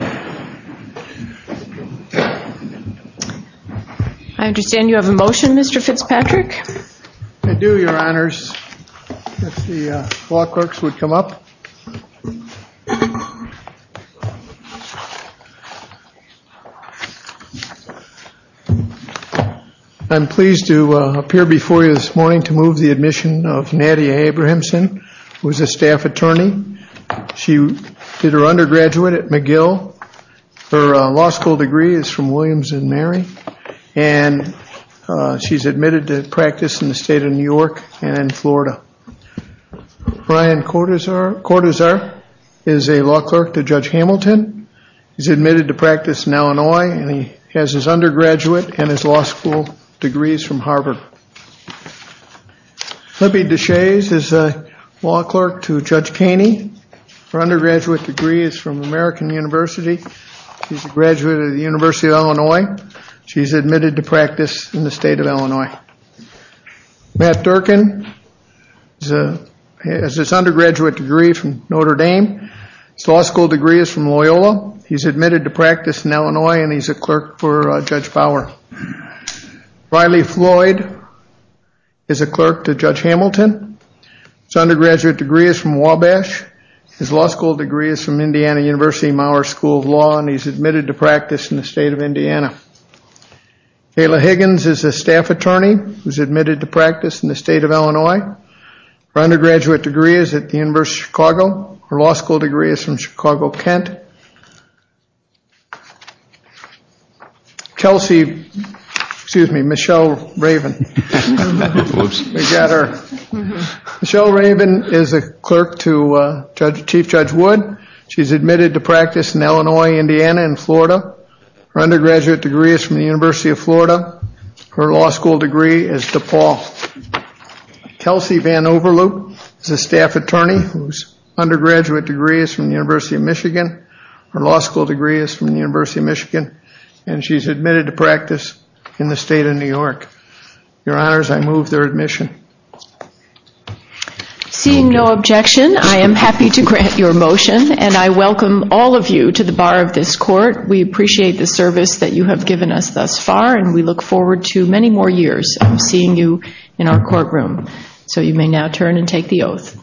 I understand you have a motion, Mr. Fitzpatrick. I do, your honors. If the law clerks would come up. I'm pleased to appear before you this morning to move the admission of Nadia Abrahamsen, who is a staff attorney. She did her undergraduate at McGill. Her law school degree is from Williams and Mary and she's admitted to practice in the state of New York and in Florida. Brian Cortazar is a law clerk to Judge Hamilton. He's admitted to practice in Illinois and he has his undergraduate and his law school degrees from Harvard. Libby Deshaies is a law clerk to Judge Kaney. Her undergraduate degree is from American University. She's a graduate of the University of Illinois. She's admitted to practice in the state of Illinois. Matt Durkin has his undergraduate degree from Notre Dame. His law school degree is from Loyola. He's admitted to practice in Illinois and he's a clerk for Judge Bauer. Riley Floyd is a clerk to Judge Hamilton. His undergraduate degree is from Wabash. His law school degree is from Indiana University Mauer School of Law and he's admitted to practice in the state of Indiana. Kayla Higgins is a staff attorney who's admitted to practice in the state of Illinois. Her undergraduate degree is at the University of Chicago. Her law school degree is from Chicago-Kent. Michelle Raven is a clerk to Chief Judge Wood. She's admitted to practice in Illinois, Indiana and Florida. Her undergraduate degree is from the University of Florida. Her law school degree is DePaul. Kelsey Van Overloop is a staff attorney whose undergraduate degree is from the University of Michigan. Her law school degree is from the University of Michigan and she's admitted to practice in the state of New York. Your Honors, I move their admission. Seeing no objection, I am happy to grant your motion and I welcome all of you to the bar of this court. We appreciate the service that you have given us thus far and we look forward to many more years of seeing you in our courtroom. So you may now turn and take the oath.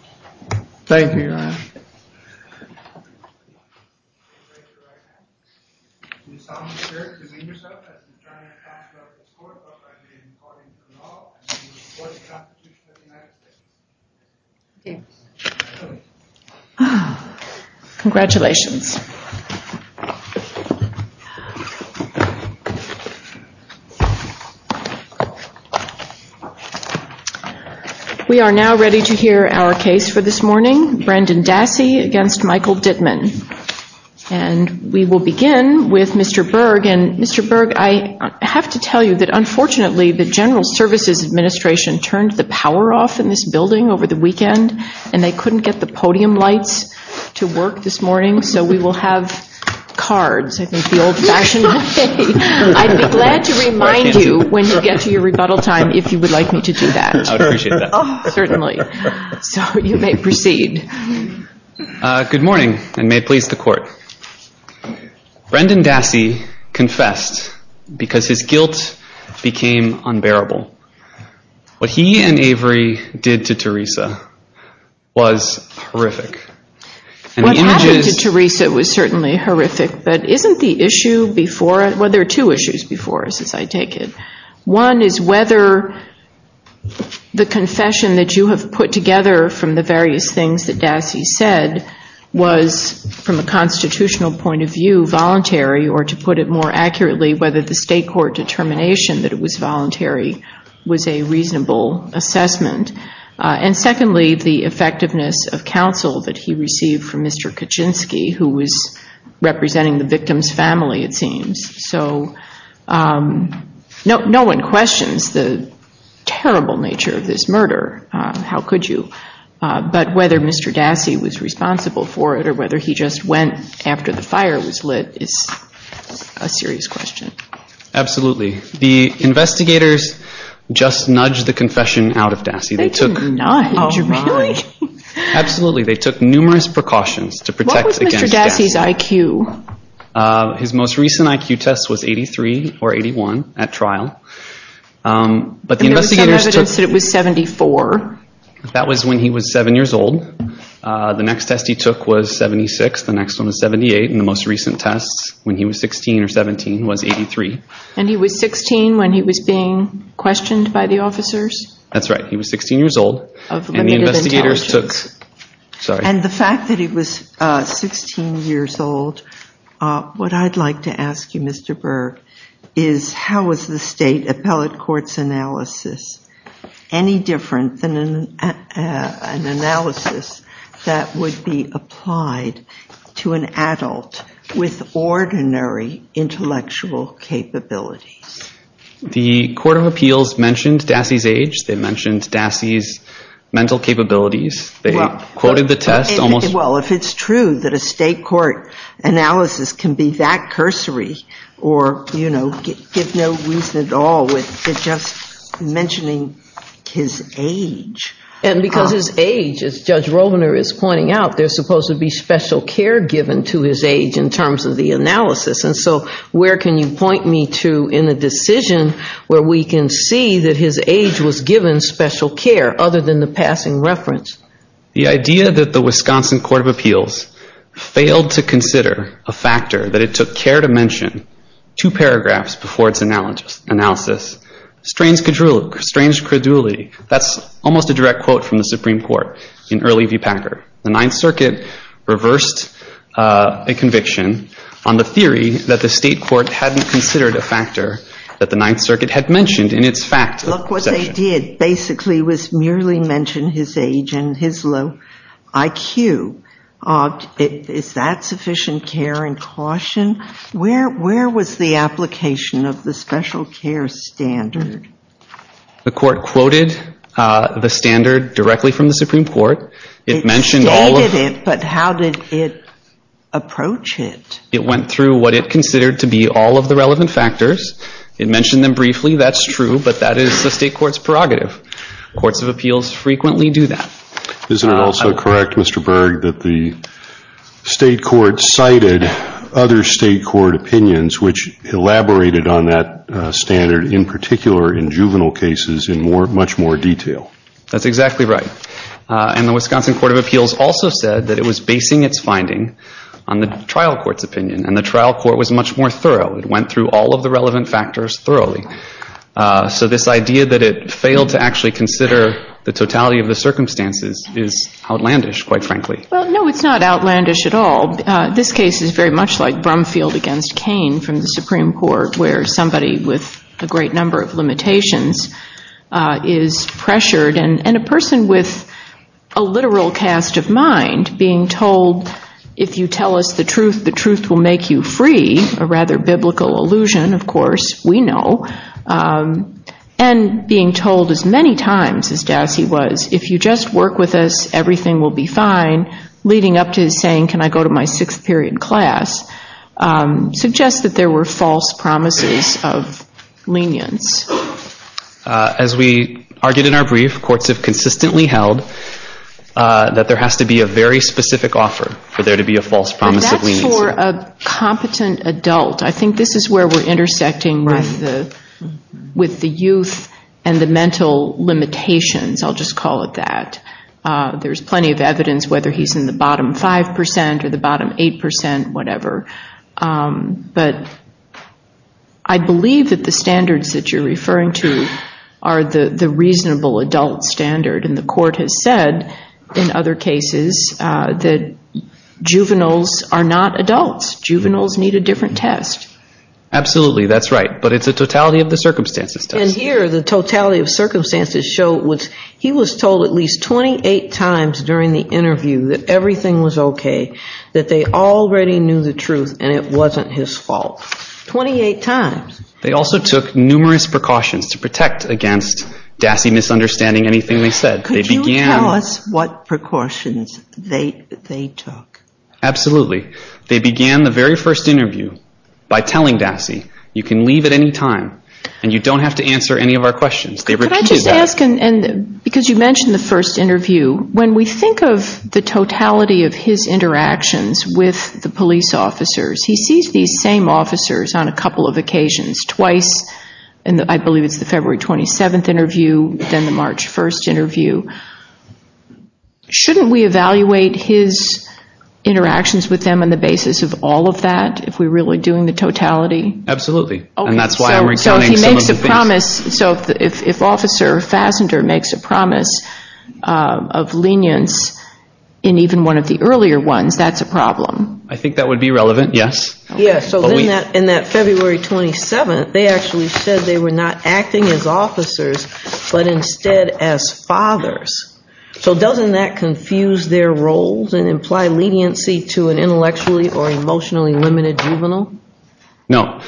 Congratulations. We are now ready to hear our case for this morning. Brandon Dassey against Michael Dittman. And we will begin with Mr. Berg. And Mr. Berg, I have to tell you that unfortunately the General Services Administration turned the power off in this building over the weekend and they couldn't get the podium lights to work this morning. So we will have cards, I think the old fashioned way. I'd be glad to remind you when you get to your rebuttal time if you would like me to do that. I would appreciate that. Certainly. So you may proceed. Good morning and may it please the court. Brandon Dassey confessed because his guilt became unbearable. What he and Avery did to Teresa was horrific. What happened to Teresa was certainly horrific but isn't the issue before, well there are two issues before us as I take it. One is whether the confession that you have put together from the various things that Dassey said was from a constitutional point of view voluntary or to put it more accurately whether the state court determination that it was voluntary was a reasonable assessment. And secondly the effectiveness of counsel that he received from Mr. Kaczynski who was representing the victim's family it seems. So no one questions the terrible nature of this murder. How could you? But whether Mr. Dassey was responsible for it or whether he just went after the fire was lit is a serious question. Absolutely. The investigators just nudged the confession out of Dassey. They took numerous precautions to protect against Dassey. What was Mr. Dassey's IQ? His most recent IQ test was 83 or 81 at trial. There was some evidence that it was 74. That was when he was 7 years old. The next test he took was 76. The next one was 78. And the most recent test when he was 16 or 17 was 83. And he was 16 when he was being questioned by the officers? That's right. He was 16 years old. Of limited intelligence. And the fact that he was 16 years old, what I'd like to ask you Mr. Berg is how was the state appellate court's analysis any different than an analysis that would be applied to an adult with ordinary intellectual capabilities? The court of appeals mentioned Dassey's age. They mentioned Dassey's mental capabilities. They quoted the test. Well if it's true that a state court analysis can be that cursory or give no reason at all with just mentioning his age. And because his age, as Judge Rovner is pointing out, there's supposed to be special care given to his age in terms of the analysis. And so where can you point me to in a decision where we can see that his age was given special care other than the passing reference? The idea that the Wisconsin Court of Appeals failed to consider a factor that it took care to mention two paragraphs before its analysis strains credulity. That's almost a direct quote from the Supreme Court in early V. Packer. The Ninth Circuit reversed a conviction on the theory that the state court hadn't considered a factor that the Ninth Circuit had mentioned in its fact section. Look what they did basically was merely mention his age and his low IQ. Is that sufficient care and caution? Where was the application of the special care standard? The court quoted the standard directly from the Supreme Court. It stated it, but how did it approach it? It went through what it considered to be all of the relevant factors. It mentioned them briefly, that's true, but that is the state court's prerogative. Courts of Appeals frequently do that. Isn't it also correct, Mr. Berg, that the state court cited other state court opinions which elaborated on that standard in particular in juvenile cases in much more detail? That's exactly right. And the Wisconsin Court of Appeals also said that it was basing its finding on the trial court's opinion. And the trial court was much more thorough. It went through all of the relevant factors thoroughly. So this idea that it failed to actually consider the totality of the circumstances is outlandish, quite frankly. Well, no, it's not outlandish at all. This case is very much like Brumfield against Kane from the Supreme Court where somebody with a great number of limitations is pressured. And a person with a literal cast of mind being told, if you tell us the truth, the truth will make you free, a rather biblical allusion, of course, we know. And being told as many times as Dassey was, if you just work with us, everything will be fine, leading up to saying, can I go to my sixth period class, suggests that there were false promises of lenience. As we argued in our brief, courts have consistently held that there has to be a very specific offer for there to be a false promise of leniency. That's for a competent adult. I think this is where we're intersecting with the youth and the mental limitations, I'll just call it that. There's plenty of evidence whether he's in the bottom 5 percent or the bottom 8 percent, whatever. But I believe that the standards that you're referring to are the reasonable adult standard. And the court has said in other cases that juveniles are not adults. Juveniles need a different test. Absolutely, that's right. But it's a totality of the circumstances test. Even here, the totality of circumstances show he was told at least 28 times during the interview that everything was okay, that they already knew the truth and it wasn't his fault. 28 times. They also took numerous precautions to protect against Dassey misunderstanding anything they said. Could you tell us what precautions they took? Absolutely. They began the very first interview by telling Dassey, you can leave at any time and you don't have to answer any of our questions. Could I just ask, because you mentioned the first interview, when we think of the totality of his interactions with the police officers, he sees these same officers on a couple of occasions. He sees twice, I believe it's the February 27th interview, then the March 1st interview. Shouldn't we evaluate his interactions with them on the basis of all of that, if we're really doing the totality? Absolutely. So if Officer Fassender makes a promise of lenience in even one of the earlier ones, that's a problem. I think that would be relevant, yes. So in that February 27th, they actually said they were not acting as officers, but instead as fathers. So doesn't that confuse their roles and imply leniency to an intellectually or emotionally limited juvenile? No.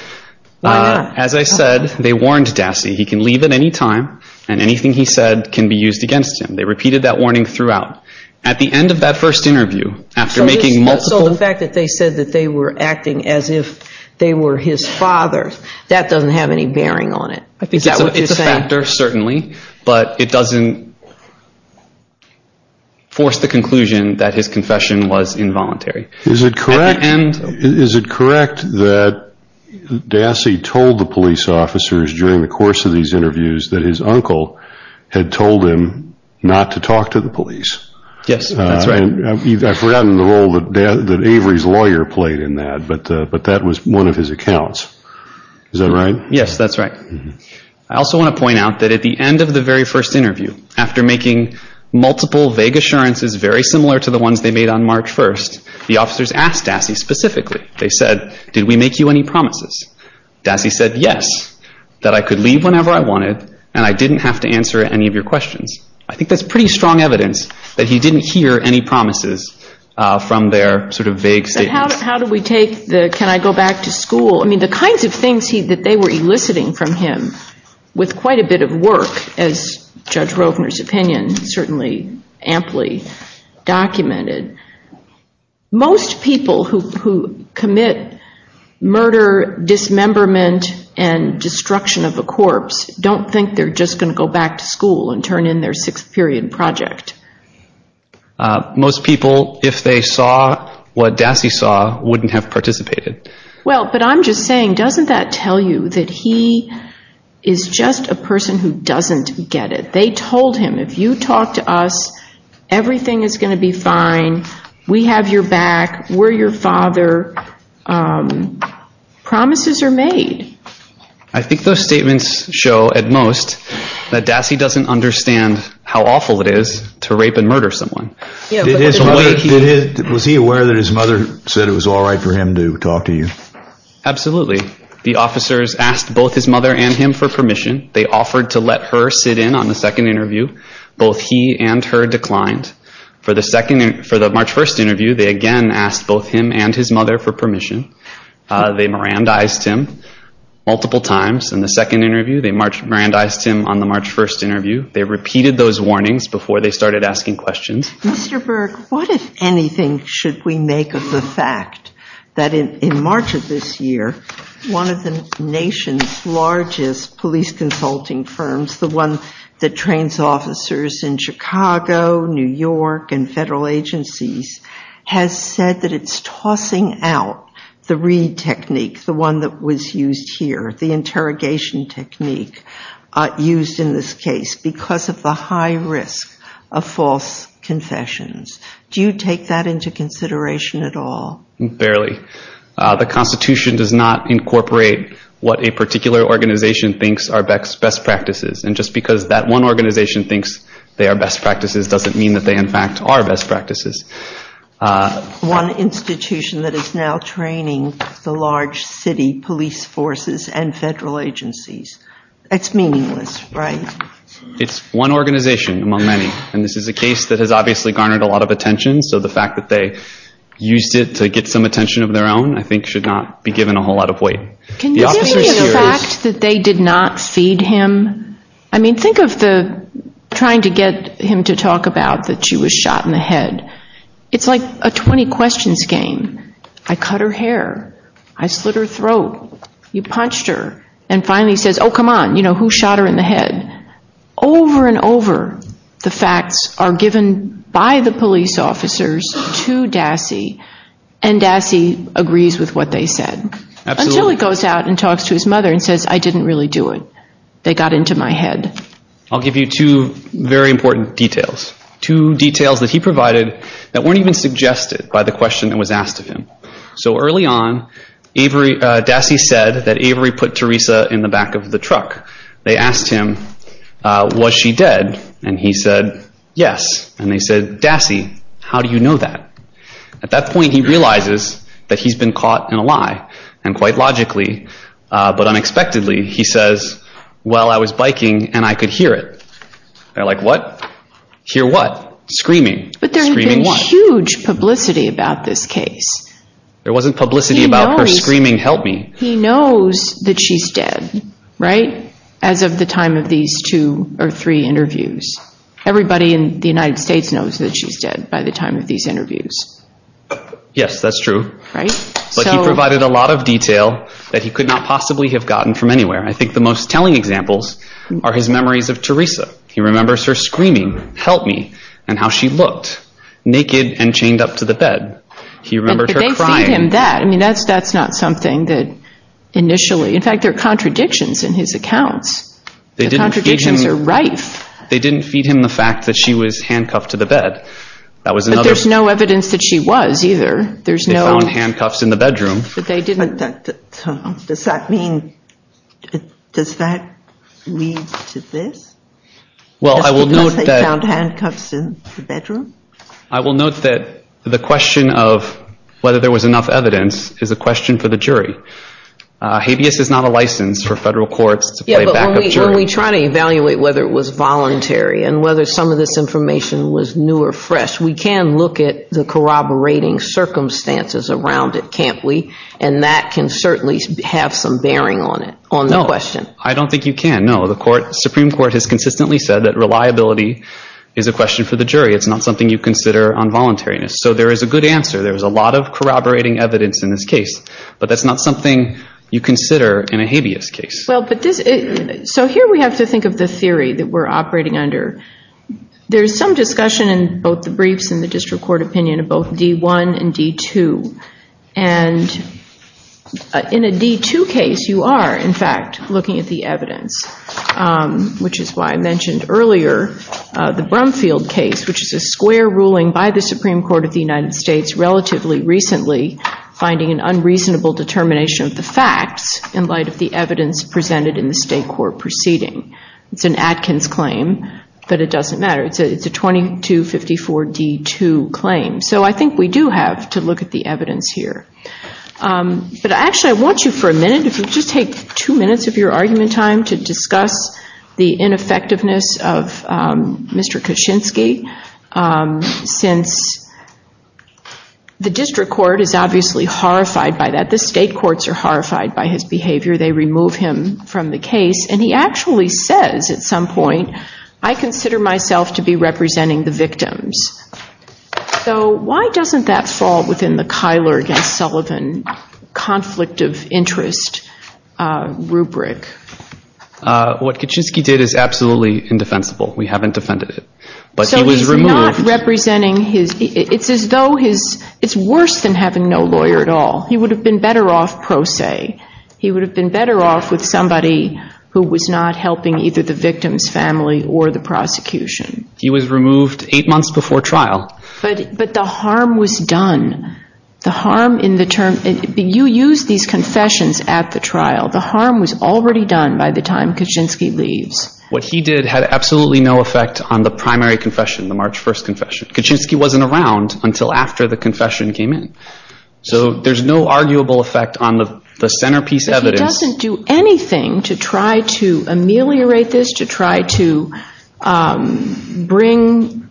Why not? As I said, they warned Dassey, he can leave at any time and anything he said can be used against him. They repeated that warning throughout. At the end of that first interview, after making multiple... So the fact that they said they were acting as if they were his father, that doesn't have any bearing on it. It's a factor, certainly, but it doesn't force the conclusion that his confession was involuntary. Is it correct that Dassey told the police officers during the course of these interviews that his uncle had told him not to talk to the police? Yes, that's right. I've forgotten the role that Avery's lawyer played in that, but that was one of his accounts. Is that right? Yes, that's right. I also want to point out that at the end of the very first interview, after making multiple vague assurances very similar to the ones they made on March 1st, the officers asked Dassey specifically. They said, did we make you any promises? Dassey said, yes, that I could leave whenever I wanted and I didn't have to answer any of your questions. I think that's pretty strong evidence that he didn't hear any promises from their sort of vague statements. How do we take the, can I go back to school? I mean, the kinds of things that they were eliciting from him with quite a bit of work, as Judge Rovner's opinion certainly amply documented, most people who commit murder, dismemberment, and destruction of a corpse don't think they're just going to go back to school and turn in their sixth period project. Most people, if they saw what Dassey saw, wouldn't have participated. Well, but I'm just saying, doesn't that tell you that he is just a person who doesn't get it? They told him, if you talk to us, everything is going to be fine. We have your back. We're your father. Promises are made. I think those statements show at most that Dassey doesn't understand how awful it is to rape and murder someone. Was he aware that his mother said it was all right for him to talk to you? Absolutely. The officers asked both his mother and him for permission. They offered to let her sit in on the second interview. Both he and her declined. For the March 1st interview, they again asked both him and his mother for permission. They Mirandized him. Multiple times. In the second interview, they Mirandized him on the March 1st interview. They repeated those warnings before they started asking questions. Mr. Burke, what, if anything, should we make of the fact that in March of this year, one of the nation's largest police consulting firms, the one that trains officers in Chicago, New York, and federal agencies, has said that it's tossing out the Reed technique, the one that was used here, the interrogation technique used in this case, because of the high risk of false confessions. Do you take that into consideration at all? Barely. The Constitution does not incorporate what a particular organization thinks are best practices. And just because that one organization thinks they are best practices doesn't mean that they, in fact, are best practices. One institution that is now training the large city police forces and federal agencies. It's meaningless, right? It's one organization among many. And this is a case that has obviously garnered a lot of attention, so the fact that they used it to get some attention of their own, I think, should not be given a whole lot of weight. Can you speak of the fact that they did not feed him? I mean, think of the trying to get him to talk about that she was shot in the head. It's like a 20 questions game. I cut her hair. I slit her throat. You punched her. And finally he says, oh, come on, who shot her in the head? Over and over, the facts are given by the police officers to Dassey, and Dassey agrees with what they said. Until he goes out and talks to his mother and says, I didn't really do it. They got into my head. I'll give you two very important details. Two details that he provided that weren't even suggested by the question that was asked of him. So early on, Dassey said that Avery put Teresa in the back of the truck. They asked him, was she dead? And he said, yes. And they said, Dassey, how do you know that? At that point, he realizes that he's been caught in a lie. And quite logically, but unexpectedly, he says, well, I was biking and I could hear it. They're like, what? Hear what? Screaming. Screaming what? But there had been huge publicity about this case. There wasn't publicity about her screaming, help me. He knows that she's dead, right? As of the time of these two or three interviews. Everybody in the United States knows that she's dead by the time of these interviews. Yes, that's true. But he provided a lot of detail that he could not possibly have gotten from anywhere. I think the most telling examples are his memories of Teresa. He remembers her screaming, help me, and how she looked. Naked and chained up to the bed. He remembers her crying. But they feed him that. I mean, that's not something that initially. In fact, there are contradictions in his accounts. The contradictions are rife. They didn't feed him the fact that she was handcuffed to the bed. But there's no evidence that she was either. They found handcuffs in the bedroom. But does that mean, does that lead to this? Well, I will note that. Because they found handcuffs in the bedroom? I will note that the question of whether there was enough evidence is a question for the jury. Habeas is not a license for federal courts to play backup jury. Yeah, but when we try to evaluate whether it was voluntary and whether some of this information was new or fresh, we can look at the corroborating circumstances around it, can't we? And that can certainly have some bearing on it, on the question. No, I don't think you can. No, the Supreme Court has consistently said that reliability is a question for the jury. It's not something you consider on voluntariness. So there is a good answer. There's a lot of corroborating evidence in this case. But that's not something you consider in a habeas case. So here we have to think of the theory that we're operating under. There's some discussion in both the briefs and the district court opinion of both D1 and D2. And in a D2 case, you are, in fact, looking at the evidence. Which is why I mentioned earlier the Brumfield case, which is a square ruling by the Supreme Court of the United States relatively recently, finding an unreasonable determination of the facts in light of the evidence presented in the state court proceeding. It's an Atkins claim, but it doesn't matter. It's a 2254 D2 claim. So I think we do have to look at the evidence here. But actually, I want you for a minute, if you just take two minutes of your argument time, to discuss the ineffectiveness of Mr. Kuczynski. Since the district court is obviously horrified by that. The state courts are horrified by his behavior. They remove him from the case. And he actually says at some point, I consider myself to be representing the victims. So why doesn't that fall within the Kyler against Sullivan conflict of interest rubric? What Kuczynski did is absolutely indefensible. We haven't defended it. So he's not representing his... It's as though his... It's worse than having no lawyer at all. He would have been better off pro se. He would have been better off with somebody who was not helping either the victim's family or the prosecution. He was removed eight months before trial. But the harm was done. The harm in the term... You use these confessions at the trial. The harm was already done by the time Kuczynski leaves. What he did had absolutely no effect on the primary confession, the March 1st confession. Kuczynski wasn't around until after the confession came in. So there's no arguable effect on the centerpiece evidence. But he doesn't do anything to try to ameliorate this, to try to bring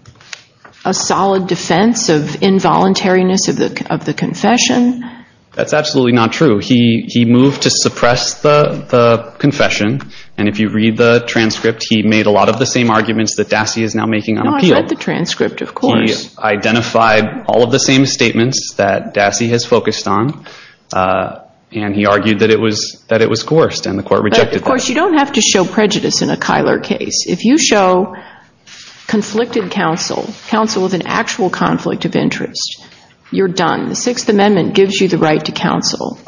a solid defense of involuntariness of the confession. That's absolutely not true. He moved to suppress the confession. And if you read the transcript, he made a lot of the same arguments that Dassey is now making on appeal. No, I've read the transcript, of course. He identified all of the same statements that Dassey has focused on. And he argued that it was coerced and the court rejected that. Of course, you don't have to show prejudice in a Kyler case. If you show conflicted counsel, counsel with an actual conflict of interest, you're done. The Sixth Amendment gives you the right to counsel.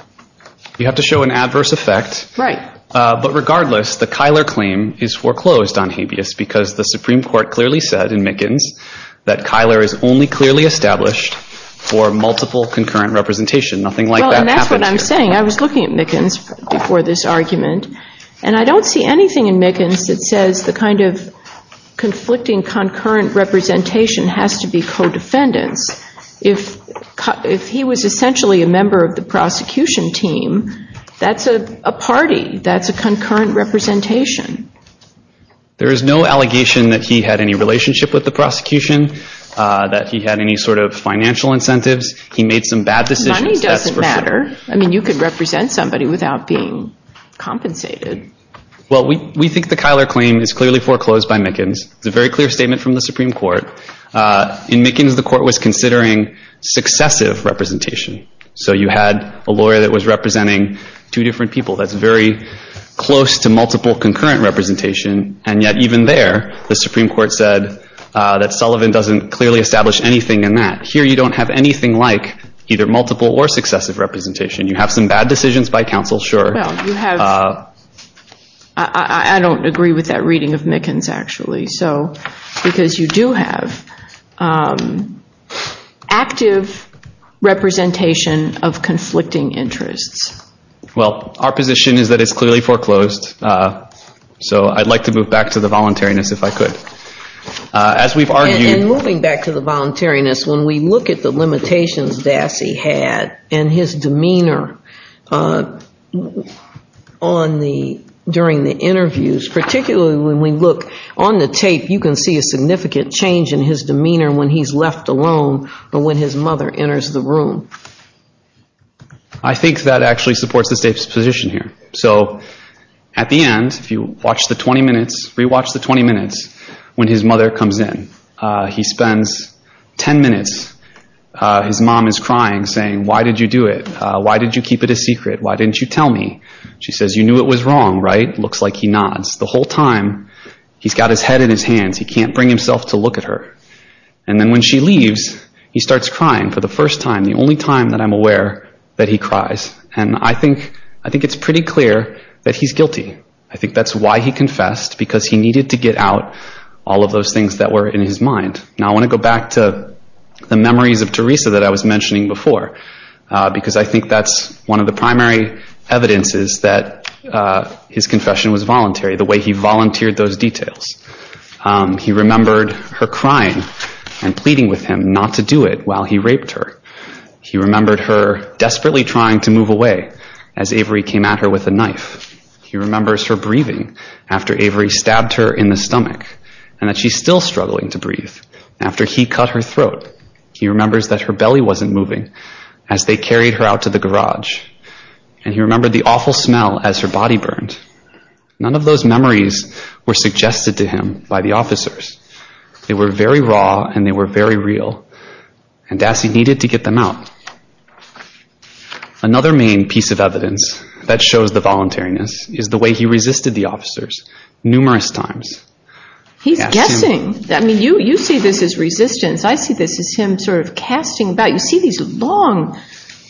You have to show an adverse effect. Right. But regardless, the Kyler claim is foreclosed on habeas because the Supreme Court clearly said in Mickens that Kyler is only clearly established for multiple concurrent representation. Nothing like that happened. Well, and that's what I'm saying. And I don't see anything in Mickens that says the kind of conflicting concurrent representation has to be co-defendants. If he was essentially a member of the prosecution team, that's a party. That's a concurrent representation. There is no allegation that he had any relationship with the prosecution, that he had any sort of financial incentives. He made some bad decisions. Money doesn't matter. I mean, you can represent somebody without being compensated. Well, we think the Kyler claim is clearly foreclosed by Mickens. It's a very clear statement from the Supreme Court. In Mickens, the court was considering successive representation. So you had a lawyer that was representing two different people. That's very close to multiple concurrent representation. And yet even there, the Supreme Court said that Sullivan doesn't clearly establish anything in that. Here you don't have anything like either multiple or successive representation. You have some bad decisions by counsel, sure. Well, you have... I don't agree with that reading of Mickens, actually. So, because you do have active representation of conflicting interests. Well, our position is that it's clearly foreclosed. So I'd like to move back to the voluntariness if I could. As we've argued... And moving back to the voluntariness, when we look at the limitations Dassey had and his demeanor during the interviews, particularly when we look on the tape, you can see a significant change in his demeanor when he's left alone or when his mother enters the room. I think that actually supports the state's position here. So, at the end, if you watch the 20 minutes, re-watch the 20 minutes when his mother comes in. He spends 10 minutes. His mom is crying saying, why did you do it? Why did you keep it a secret? Why didn't you tell me? She says, you knew it was wrong, right? Looks like he nods. The whole time, he's got his head in his hands. He can't bring himself to look at her. And then when she leaves, he starts crying for the first time, the only time that I'm aware that he cries. And I think it's pretty clear that he's guilty. I think that's why he confessed, because he needed to get out all of those things that were in his mind. Now, I want to go back to the memories of Teresa that I was mentioning before, because I think that's one of the primary evidences that his confession was voluntary, the way he volunteered those details. He remembered her crying and pleading with him not to do it while he raped her. He remembered her desperately trying to move away as Avery came at her with a knife. He remembers her breathing after Avery stabbed her in the stomach and that she's still struggling to breathe. After he cut her throat, he remembers that her belly wasn't moving as they carried her out to the garage. And he remembered the awful smell as her body burned. None of those memories were suggested to him by the officers. They were very raw, and they were very real, and Dassey needed to get them out. Another main piece of evidence that shows the voluntariness is the way he resisted the officers numerous times. He's guessing. I mean, you see this as resistance. I see this as him sort of casting doubt. You see these long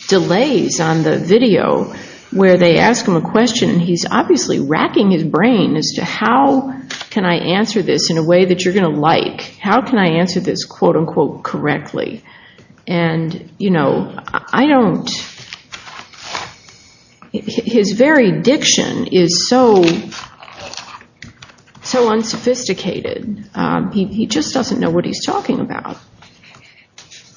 delays on the video where they ask him a question, and he's obviously racking his brain as to how can I answer this in a way that you're going to like. How can I answer this quote-unquote correctly? And, you know, I don't... His very diction is so unsophisticated. He just doesn't know what he's talking about.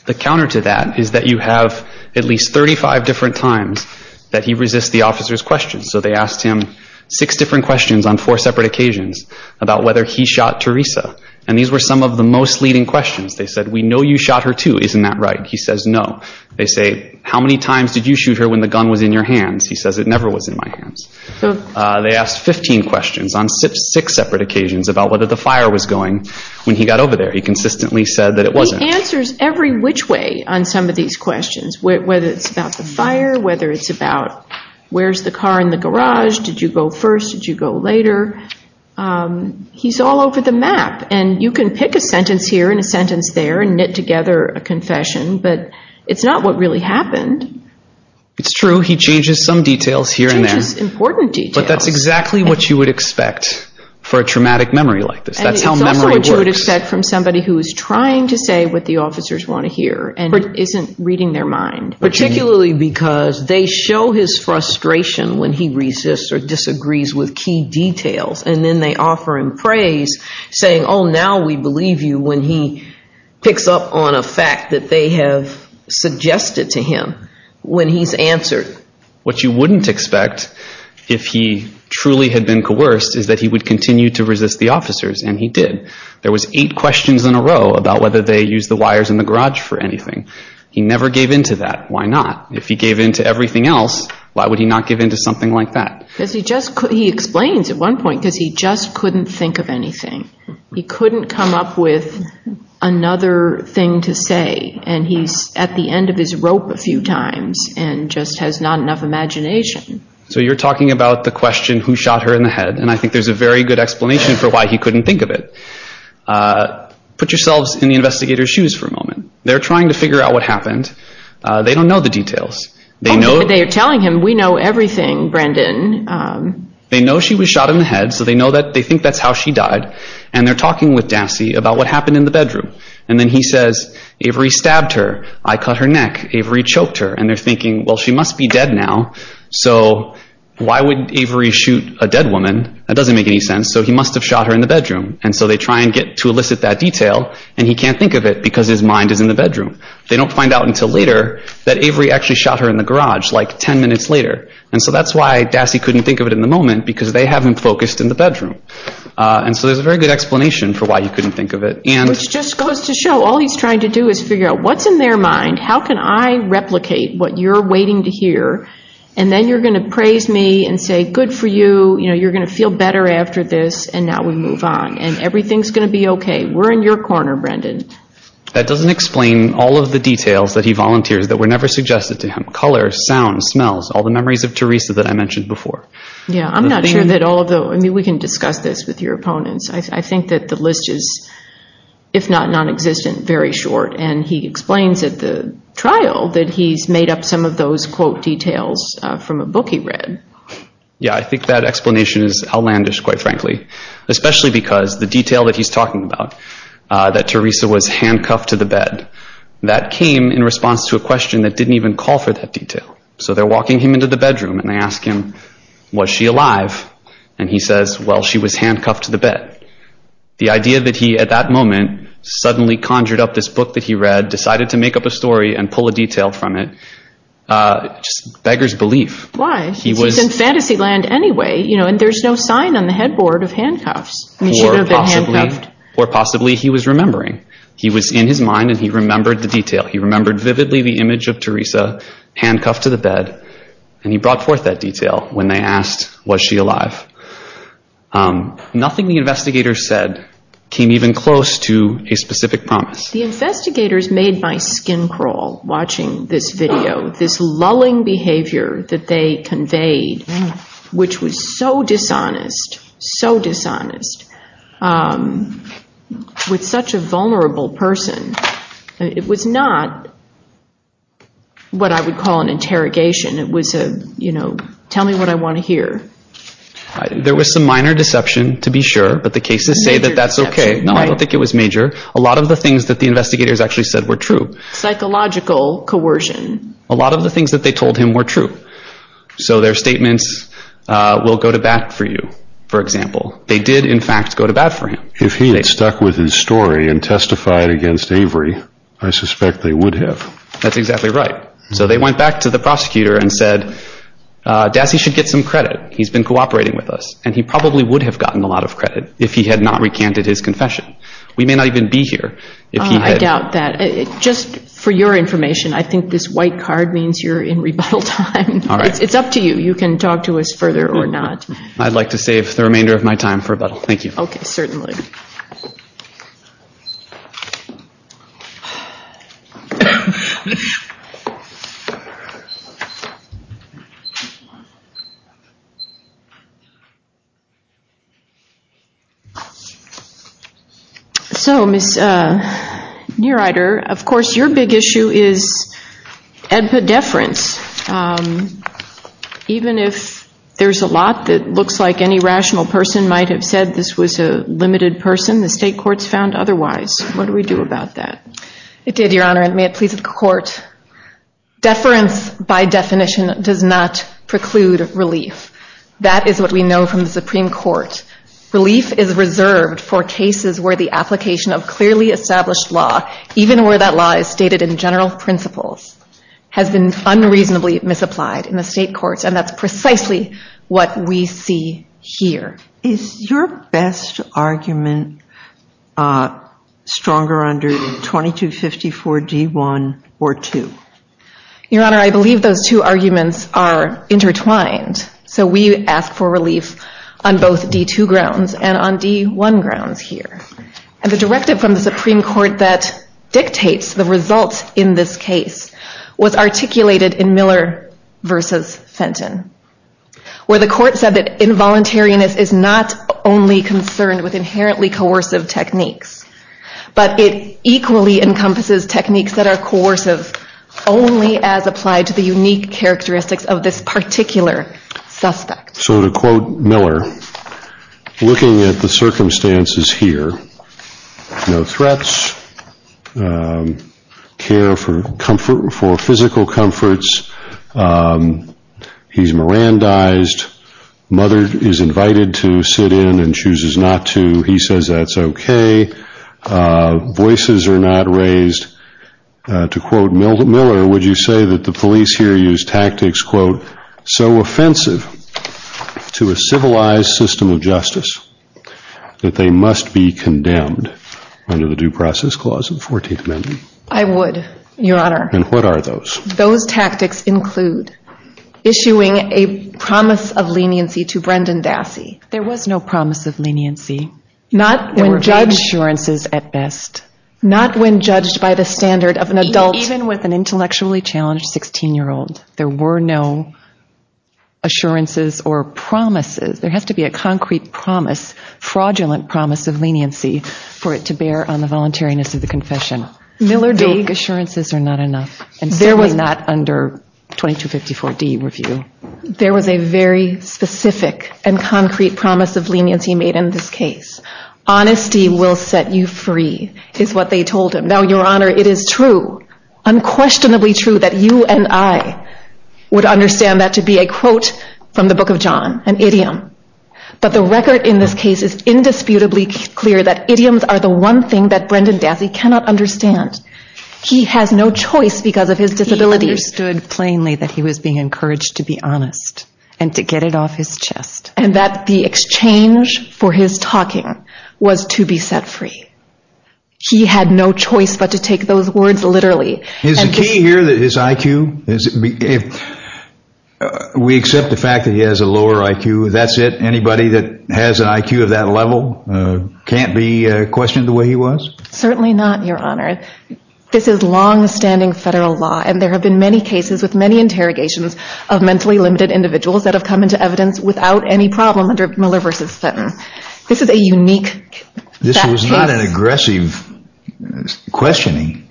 The counter to that is that you have at least 35 different times that he resists the officers' questions. So they asked him six different questions on four separate occasions about whether he shot Teresa. And these were some of the most leading questions. They said, we know you shot her, too. Isn't that right? He says, no. It never was in my hands. They asked 15 questions on six separate occasions about whether the fire was going when he got over there. He consistently said that it wasn't. He answers every which way on some of these questions, whether it's about the fire, whether it's about where's the car in the garage, did you go first, did you go later? And you can pick a sentence here and a sentence there and knit together a confession, but that's exactly what you would expect for a traumatic memory like this. That's how memory works. And it's also what you would expect from somebody who is trying to say what the officers want to hear and isn't reading their mind. Particularly because they show his frustration when he resists or disagrees with key details, and then they offer him praise, saying, oh, now we believe you, when he picks up on a fact that they have suggested to him when he's answered. What you would expect if he truly had been coerced is that he would continue to resist the officers, and he did. There was eight questions in a row about whether they used the wires in the garage for anything. He never gave in to that. Why not? If he gave in to everything else, why would he not give in to something like that? He explains at one point because he just couldn't think of anything. He couldn't come up with another thing to say, and he's at the end of his rope a few times and he's at the end of his rope. So you're talking about the question who shot her in the head, and I think there's a very good explanation for why he couldn't think of it. Put yourselves in the investigator's shoes for a moment. They're trying to figure out what happened. They don't know the details. They know... Oh, but they're telling him, we know everything, Brendan. They know she was shot in the head, so they think that's how she died, and they're talking with Dancy about what happened in the bedroom, and then he says, Avery stabbed her. I cut her neck. Avery choked her, and they're thinking, well, she must be dead now, so why would Avery shoot a dead woman? That doesn't make any sense, so he must have shot her in the bedroom, and so they try and get to elicit that detail, and he can't think of it because his mind is in the bedroom. They don't find out until later that Avery actually shot her in the garage like 10 minutes later, and so that's why Dassy couldn't think of it in the moment because they haven't focused in the bedroom, and so there's a very good explanation for why he couldn't think of it. Which just goes to show all he's trying to do is figure out what's in their mind, how can I replicate what you're waiting to hear, and then you're going to praise me and say, good for you, you're going to feel better after this, and now we move on, and everything's going to be okay. We're in your corner, Brendan. That doesn't explain all of the details that he volunteers that were never suggested to him, and I'm not sure that all of the... I mean, we can discuss this with your opponents. I think that the list is, if not nonexistent, very short, and he explains at the trial that he's made up some of those, quote, details from a book he read. Yeah, I think that explanation is outlandish, quite frankly, especially because the detail that he's talking about, that Teresa was handcuffed to the bed, that came in response to a question that didn't even call for that detail, so they're walking him into the bedroom, and he says, well, she was handcuffed to the bed. The idea that he, at that moment, suddenly conjured up this book that he read, decided to make up a story and pull a detail from it, just beggars belief. Why? It's in fantasy land anyway, and there's no sign on the headboard of handcuffs. I mean, she could have been handcuffed. Or possibly he was remembering. He was in his mind, and he remembered the detail. He remembered vividly the image of Teresa handcuffed to the bed, and he remembers vividly the fact that she was alive. Nothing the investigators said came even close to a specific promise. The investigators made my skin crawl watching this video, this lulling behavior that they conveyed, which was so dishonest, so dishonest, It was not what I would call an interrogation. It was a, you know, there was some minor deception, to be sure, but the cases say that that's okay. No, I don't think it was major. A lot of the things that the investigators actually said were true. Psychological coercion. A lot of the things that they told him were true. So their statements, we'll go to bat for you, for example. They did, in fact, go to bat for him. If he had stuck with his story and testified against Avery, I suspect they would have. That's exactly right. He would have stayed with us and he probably would have gotten a lot of credit if he had not recanted his confession. We may not even be here if he had. I doubt that. Just for your information, I think this white card means you're in rebuttal time. It's up to you. You can talk to us further or not. I'd like to save the remainder of my time for rebuttal. Thank you. Okay, certainly. So, Ms. Neureider, of course, your big issue is epidefference. Even if there's a lot that looks like any rational person might have said this was a limited person, the state courts found otherwise. What do we do about that? It did, Your Honor, and may it please the court. Deference, by definition, does not preclude relief. That is what we know. We know from the Supreme Court relief is reserved for cases where the application of clearly established law, even where that law is stated in general principles, has been unreasonably misapplied in the state courts, and that's precisely what we see here. Is your best argument stronger under 2254 D.1 or 2? Your Honor, I believe those two arguments are intertwined. I believe on both D.2 grounds and on D.1 grounds here, and the directive from the Supreme Court that dictates the results in this case was articulated in Miller v. Fenton, where the court said that involuntariness is not only concerned with inherently coercive techniques, but it equally encompasses techniques that are coercive only as applied to the unique characteristics of this particular case. I would argue that Miller, looking at the circumstances here, no threats, care for physical comforts, he's Mirandized, mother is invited to sit in and chooses not to. He says that's okay. Voices are not raised. To quote Miller, would you say that the police here use tactics, quote, so offensive to a civilized system of justice that they must be condemned under the Due Process Clause of the 14th Amendment? I would, Your Honor. And what are those? Those tactics include issuing a promise of leniency to Brendan Dassey. There was no promise of leniency. Not when judged by the standard of an adult. Even with an intellectually well-known assurances or promises, there has to be a concrete promise, fraudulent promise of leniency for it to bear on the voluntariness of the confession. Vague assurances are not enough. And certainly not under 2254D review. There was a very specific and concrete promise of leniency made in this case. Honesty will set you free is what they told him. Now, Your Honor, it is true, unquestionably true, that you and I would understand that to be a quote from the Book of John, an idiom. But the record in this case is indisputably clear that idioms are the one thing that Brendan Dassey cannot understand. He has no choice because of his disability. He understood plainly that he was being encouraged to be honest and to get it off his chest. And that the exchange for his talking was to be set free. He had no choice but to take those words literally. Is the key here his IQ? We accept the fact that he has a lower IQ. That's it? Anybody that has an IQ of that level can't be questioned the way he was? Certainly not, Your Honor. This is longstanding federal law and there have been many cases with many interrogations of mentally limited individuals that have come into evidence without any problem under Miller v. Fenton. This is a unique fact. This is not an aggressive questioning.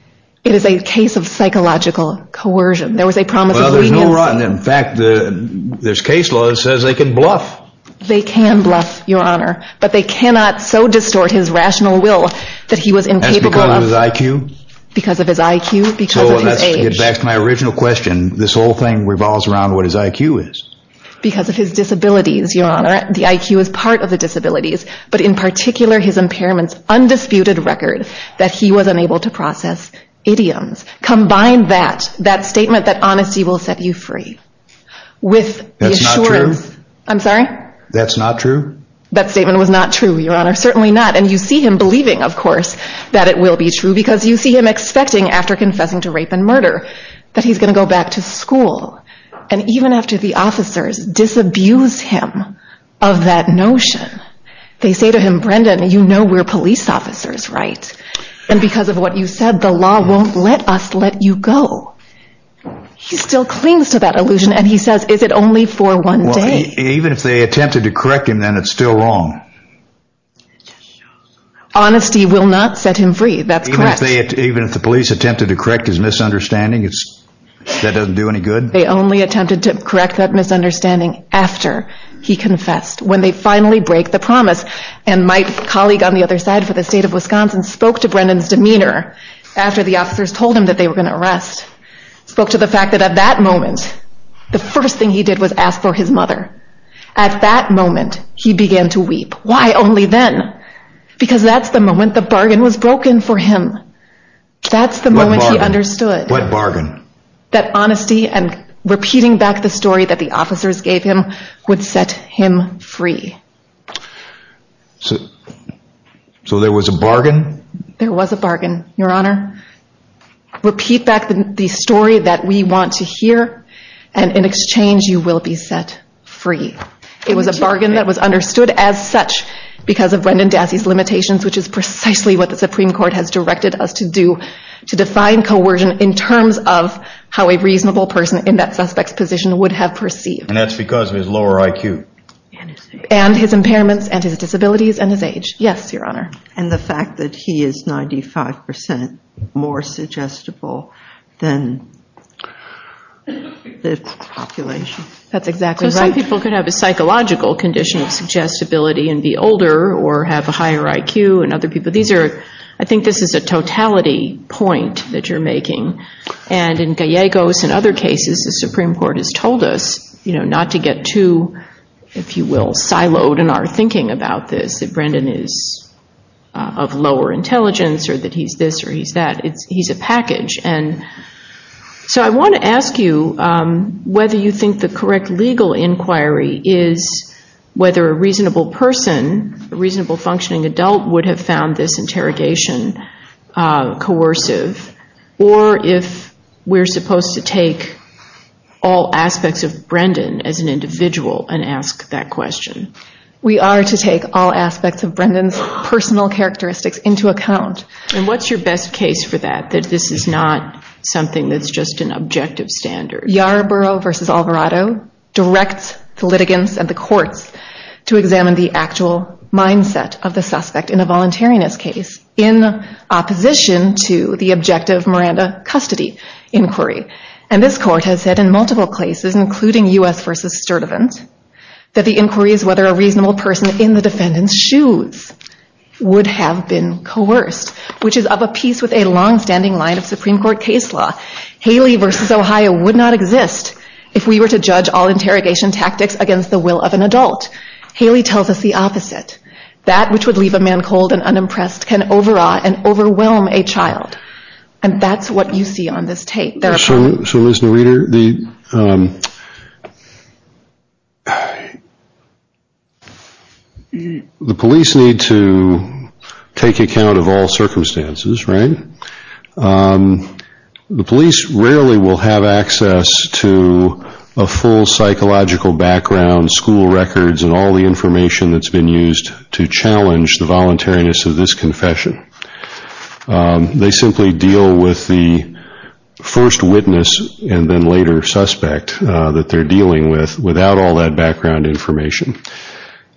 It is a case of psychological coercion. There was a promise of leniency. In fact, there's case law that says they can bluff. They can bluff, Your Honor, but they cannot so distort his rational will that he was incapable of... That's because of his IQ? Because of his IQ, because of his disabilities, Your Honor. The IQ is part of the disabilities, but in particular his impairment's undisputed record that he was unable to process idioms. Combine that, that statement that honesty will set you free with the assurance... That's not true? I'm sorry? That's not true? That statement was not true, Your Honor. Certainly not, and you see him believing, of course, that it will be true because you see him expecting after confessing to rape and murder that he's going to go back to school, and even after the officers disabuse him of that notion, they say to him, Brendan, you know we're police officers, right? And because of what you said, the law won't let us let you go. He still clings to that illusion, and he says, is it only for one day? Even if they attempted to correct him, then it's still wrong. Honesty will not set him free. That's correct. Even if the police attempted to correct his misunderstanding, that doesn't do any good? They only attempted to correct that misunderstanding after he confessed. When they finally break the promise, and my colleague on the other side for the state of Wisconsin spoke to Brendan's demeanor after the officers told him that they were going to arrest, spoke to the fact that at that moment, the first thing he did was ask for his mother. At that moment, he began to weep. Why only then? That's the moment he understood. What bargain? That honesty and repeating back the story that the officers gave him would set him free. So there was a bargain? There was a bargain, Your Honor. Repeat back the story that we want to hear, and in exchange, you will be set free. It was a bargain that was understood as such because of Brendan Dassey's limitations, which is precisely what the Supreme Court was supposed to do to define coercion in terms of how a reasonable person in that suspect's position would have perceived. And that's because of his lower IQ. And his impairments, and his disabilities, and his age. Yes, Your Honor. And the fact that he is 95% more suggestible than the population. That's exactly right. Some people could have a psychological condition for any point that you're making. And in Gallegos and other cases, the Supreme Court has told us not to get too, if you will, siloed in our thinking about this. That Brendan is of lower intelligence or that he's this or he's that. He's a package. So I want to ask you whether you think the correct legal inquiry is whether a reasonable person, a reasonable functioning adult would have found this interrogation coercive, or if we're supposed to take all aspects of Brendan as an individual and ask that question. We are to take all aspects of Brendan's personal characteristics into account. And what's your best case for that? That this is not something that's just an objective standard? Yarborough v. Alvarado directs the litigants and the courts to examine the actual mindset of the suspect in a similar way to the objective Miranda custody inquiry. And this court has said in multiple cases, including U.S. v. Sturtevant, that the inquiry is whether a reasonable person in the defendant's shoes would have been coerced, which is of a piece with a longstanding line of Supreme Court case law. Haley v. Ohio would not exist if we were to judge all interrogation tactics against the will of an adult. Haley tells us the opposite. That which would leave a man cold and unimpressed can overawe and overwhelm a child. And that's what you see on this tape. So, Ms. Noeder, the police need to take account of all circumstances, right? The police rarely will have access to a full psychological background, school records, and all the information that's been used to challenge the voluntariness of this confession. They simply deal with the first witness and then later suspect that they're dealing with without all that background information.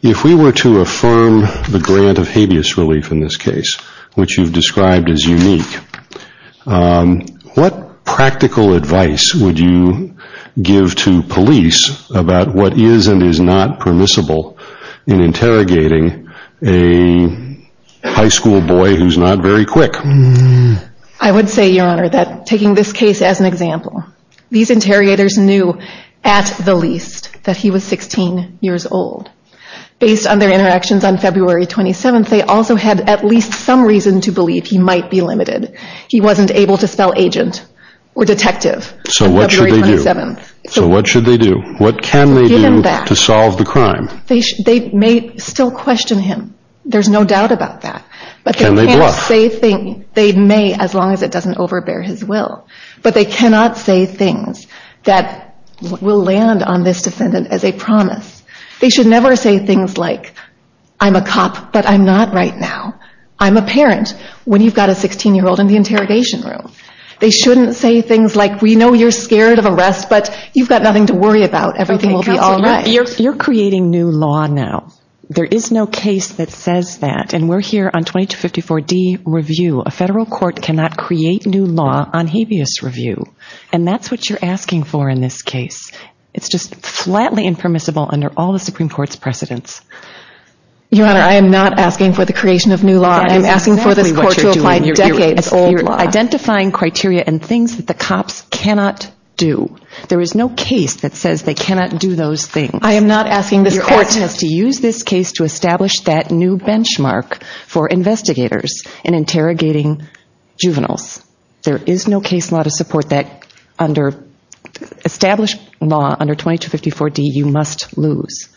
If we were to affirm the grant of habeas relief in this case, which you've described as unique, what practical advice would you give to police about what is and is not permissible in interrogating a high school boy who's not very quick? I would say, Your Honor, that taking this case as an example, these interrogators knew at the least that he was 16 years old. Based on their interactions on February 27th, they also had at least some reason to believe he might be limited. He wasn't able to spell agent or detective on February 27th. So what should they do? What can they do to solve the crime? They may still question him. There's no doubt about that. Can they bluff? They may, as long as it doesn't overbear his will. But they cannot say things that will land on this defendant as a promise. They should never say things like, I'm a cop, but I'm not right now. I'm a parent. When you've got a 16-year-old in the interrogation room. They shouldn't say things like, we know you're scared of arrest, but you've got nothing to worry about. Everything will be all right. You're creating new law now. There is no case that says that. And we're here on 2254D review. A federal court cannot create new law on habeas review. And that's what you're asking for in this case. It's just flatly impermissible under all the Supreme Court's precedents. Your Honor, I am not asking for the creation of new law. I am asking for this court to apply decades-old law. You're identifying criteria and things that the cops cannot do. There is no case that says they cannot do those things. I am not asking this court... Your case has to use this case to establish that new benchmark for investigators in interrogating juveniles. There is no case law to support that under established law under 2254D you must lose.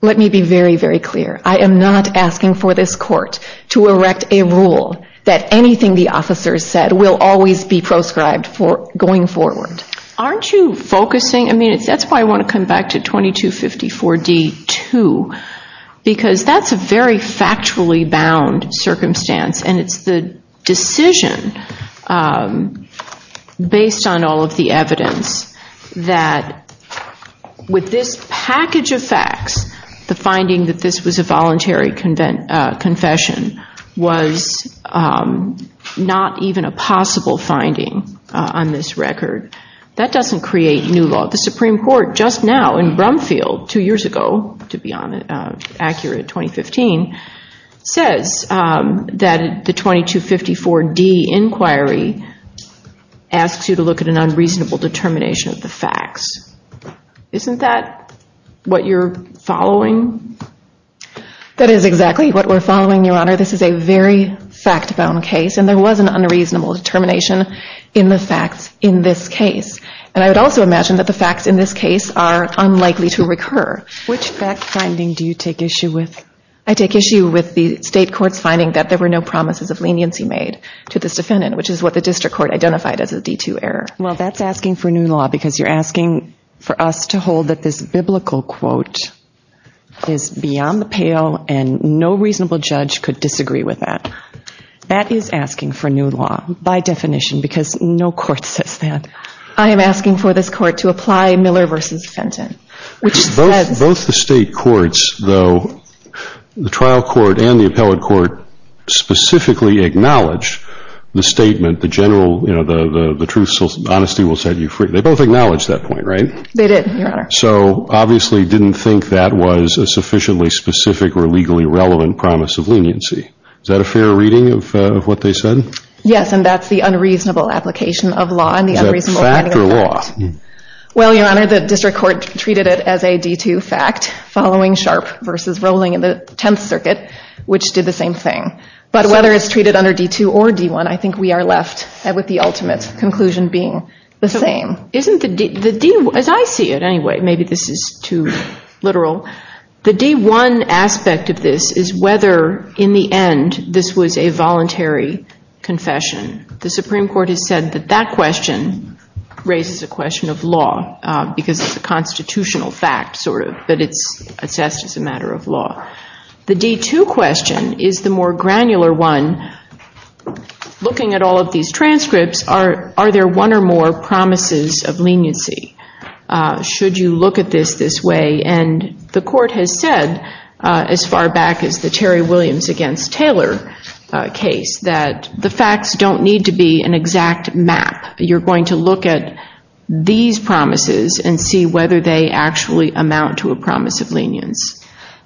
Let me be very, very clear. I am not asking for this court to erect a rule that anything the officers said will always be proscribed going forward. Aren't you focusing... That's why I want to come back to 2254D2 because that's a very factually bound circumstance and it's the decision based on all of the evidence that with this package of facts the finding that this was a voluntary confession was not even a possible finding on this record. That doesn't create new law. The Supreme Court just now in Brumfield two years ago to be accurate, 2015 says that the 2254D inquiry asks you to look at an unreasonable determination of the facts. Isn't that what you're following? That is exactly what we're following, Your Honor. This is a very fact-bound case and there was an unreasonable determination in the facts in this case. And I would also imagine that the facts in this case are unlikely to recur. Which fact finding do you take issue with? I take issue with the state court's finding that there were no promises of leniency made to this defendant which is what the district court identified as a D2 error. Well, that's asking for new law because you're asking for us to hold that this biblical quote is beyond the pale and no reasonable judge could disagree with that. That is asking for new law by definition because no court says that. I am asking for this court to apply Miller v. Fenton. Both the state courts, though, the trial court and the appellate court specifically acknowledge the statement, the general, you know, the truth, honesty will set you free. They both acknowledge that point, right? They did, Your Honor. So, obviously, didn't think that was a sufficiently specific or legally relevant promise of leniency. Is that a fair reading of what they said? Yes, and that's the unreasonable application of law reading of the law. Is that fact or law? Well, Your Honor, the district court treated it as a D2 fact following Sharp versus Rowling in the Tenth Circuit which did the same thing. But whether it's treated under D2 or D1, I think we are left with the ultimate conclusion being the same. Isn't the D, as I see it anyway, maybe this is too literal, the D1 aspect of this is whether in the end this was a voluntary confession. The Supreme Court has said that that question raises a question of law because it's a constitutional fact sort of, but it's assessed as a matter of law. The D2 question is the more granular one. Looking at all of these transcripts, are there one or more promises of leniency? Should you look at this this way? And the court has said as far back as the Terry Williams against Taylor case that the facts don't need to be an exact map. You're going to look at these promises and see whether they actually amount to a promise of lenience.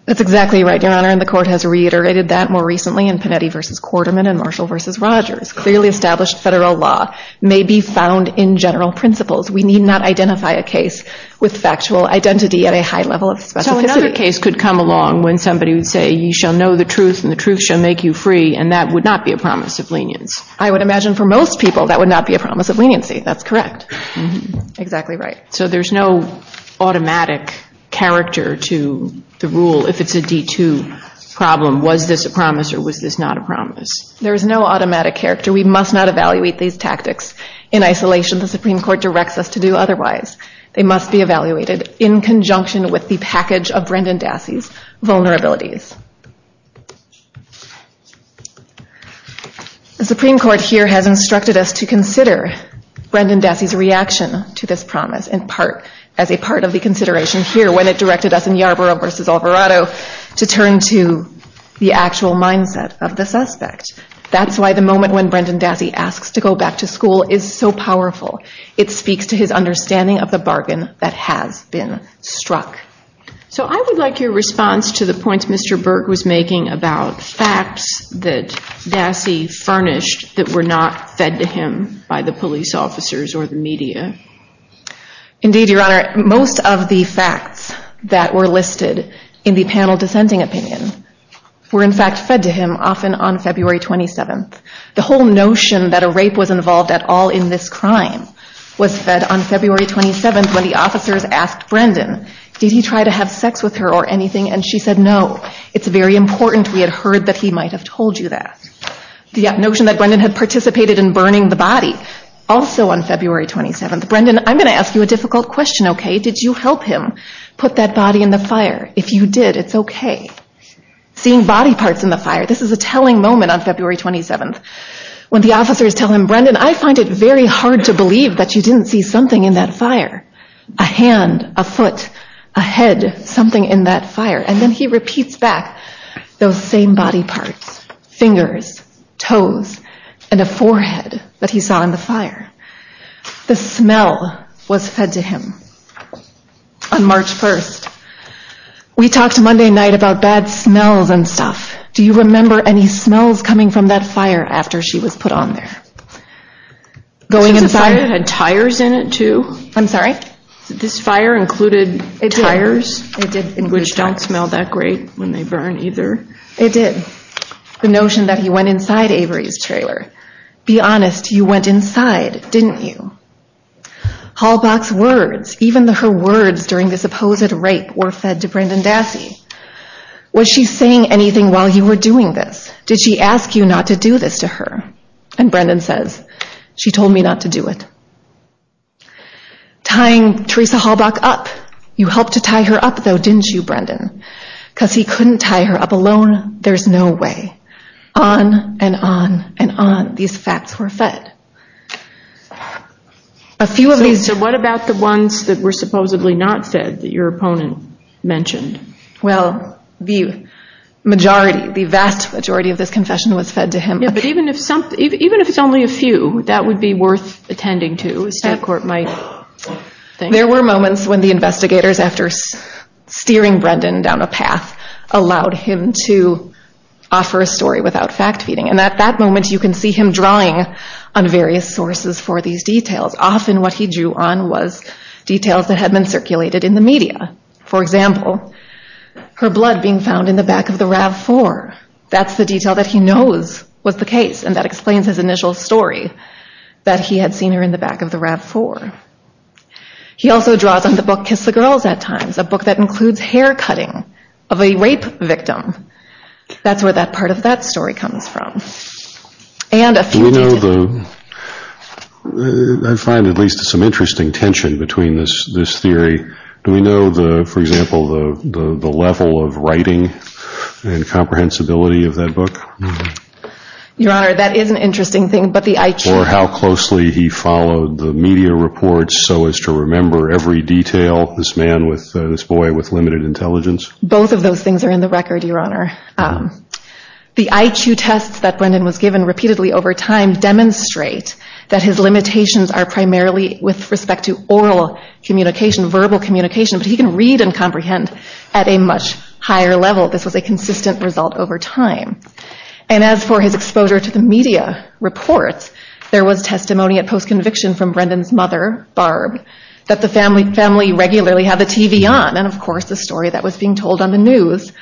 That's exactly right, Your Honor, and the court has reiterated that more recently in Panetti versus Quarterman and Marshall versus Rogers. Clearly established federal law may be found in general principles. We need not identify a case with factual identity at a high level of specificity. So another case could come along when somebody would say you shall know the truth and the truth shall make you free and that would not be a promise of lenience. I would imagine for most people that would not be a promise of leniency. That's correct. Exactly right. So there's no automatic character to the rule if it's a D2 problem. Was this a promise or was this not a promise? There is no automatic character. We must not evaluate these tactics in isolation. The Supreme Court directs us to do otherwise. They must be evaluated in conjunction with the package of Brendan Dassey's vulnerabilities. The Supreme Court here has instructed us to consider Brendan Dassey's reaction to this promise in part as a part of the consideration here when it directed us in Yarborough versus Alvarado to turn to the actual mindset of the suspect. That's why the moment when Brendan Dassey asks to go back to school is so powerful. It speaks to his understanding of the bargain that has been struck. So I would like your response to the points Mr. Burke was making about facts that Dassey furnished that were not fed to him by the police officers or the media. Indeed, Your Honor, most of the facts that were listed in the panel dissenting opinion were in fact fed to him often on February 27th. The whole notion that a rape was involved at all in this crime was fed on February 27th when the officers asked Brendan did he try to have sex with her or anything and she said no. It's very important we had heard that he might have told you that. The notion that Brendan had participated in burning the body also on February 27th. Brendan, I'm going to ask you a difficult question, okay? Did you help him in the fire? If you did, it's okay. Seeing body parts in the fire, this is a telling moment on February 27th when the officers tell him, Brendan, I find it very hard to believe that you didn't see something in that fire. A hand, a foot, a head, something in that fire and then he repeats back those same body parts. Fingers, toes, and a forehead that he saw in the fire. The smell was fed to him on March 1st. We talked Monday night about bad smells and stuff. Do you remember any smells coming from that fire after she was put on there? Going inside. Was the fire had tires in it too? I'm sorry? Did this fire included tires? It did. Which don't smell that great when they burn either. It did. The notion that he went inside Avery's trailer. Be honest, you went inside, didn't you? Hallbach's words, even her words during this supposed rape were fed to Brendan Dassey. Was she saying anything while you were doing this? Did she ask you not to do this to her? And Brendan says, she told me not to do it. Tying Teresa Hallbach up. You helped to tie her up though, didn't you Brendan? Because he couldn't tie her up alone. There's no way. On and on and on these facts were fed. A few of these... So what about the ones that were supposedly not fed that your opponent mentioned? Well, the majority, the vast majority of this confession was fed to him. But even if it's only a few, that would be worth attending to. The state court might think. There were moments when the investigators after steering Brendan down a path allowed him to offer a story without fact feeding. And at that moment you can see him drawing on various sources for these details. Often what he drew on was details that had been circulated in the media. For example, her blood being found in the back of the RAV4. That's the detail that he knows was the case. And that explains his initial story that he had seen her in the back of the RAV4. He also draws on the book Kiss the Girls at times. A book that includes hair cutting of a rape victim. That's where that part of that story comes from. And a few... Do we know the... I find at least some interesting tension between this theory. Do we know the, for example, the level of writing and comprehensibility of that book? Your Honor, that is an interesting thing. But the IQ... Or how closely he followed the media reports so as to remember every detail. This man with, this boy with limited intelligence. Both of those things are in the record, Your Honor. The IQ tests that Brendan was given repeatedly over time demonstrate that his limitations are primarily with respect to oral communication, verbal communication. But he can read and comprehend at a much higher level this was a consistent result over time. And as for his exposure to the media reports, there was testimony at post-conviction from Brendan's mother, Barb, that the family regularly had the TV on. And of course the story that was being told on the news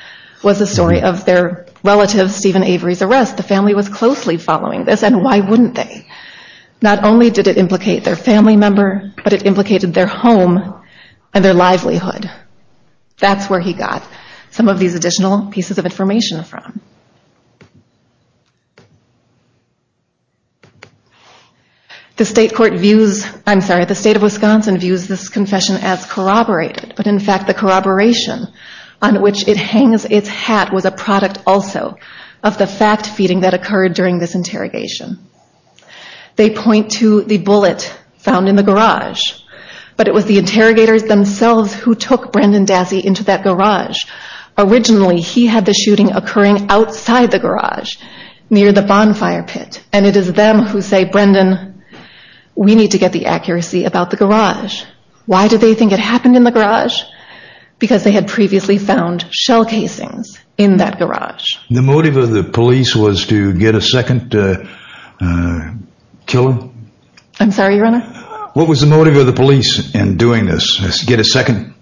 was the story of their relative Stephen Avery's arrest. The family was closely following this and why wouldn't they? Not only did it implicate their family member, but it implicated their home and their livelihood. That's where he got some of these additional pieces of information from. The State of Wisconsin views this confession as corroborated, but in fact the corroboration on which it hangs its hat was a product also of the fact-feeding that occurred during this interrogation. They point to the bullet found in the garage, but it was the interrogators themselves who took Brendan Dassey into that garage, originally he had the shooting occurring outside the garage near the bonfire pit and it is them who say, Brendan, we need to get the accuracy about the garage. Why do they think it happened in the garage? Because they had shell casings in that garage. The motive of the police was to get a second killer? I'm sorry, Your Honor? What was the motive of the police in doing this? Get a second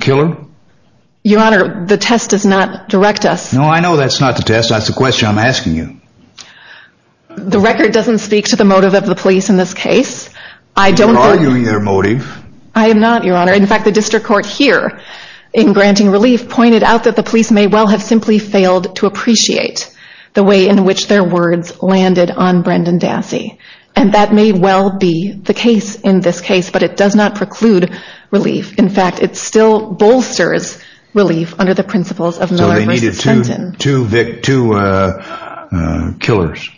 killer? Your Honor, the test does not direct us. No, I know that's not the test. That's the question I'm asking you. The record doesn't speak to the motive of the police in this case. You're arguing their motive. I am not, Your Honor. In fact, the district court here in granting relief pointed out that the police may well have simply failed to appreciate the way in which their words landed on Brendan Dassey and that may well be the case in this case, but it does not preclude relief. In fact, it still bolsters relief under the principles of Miller v. Trenton. So they needed two killers?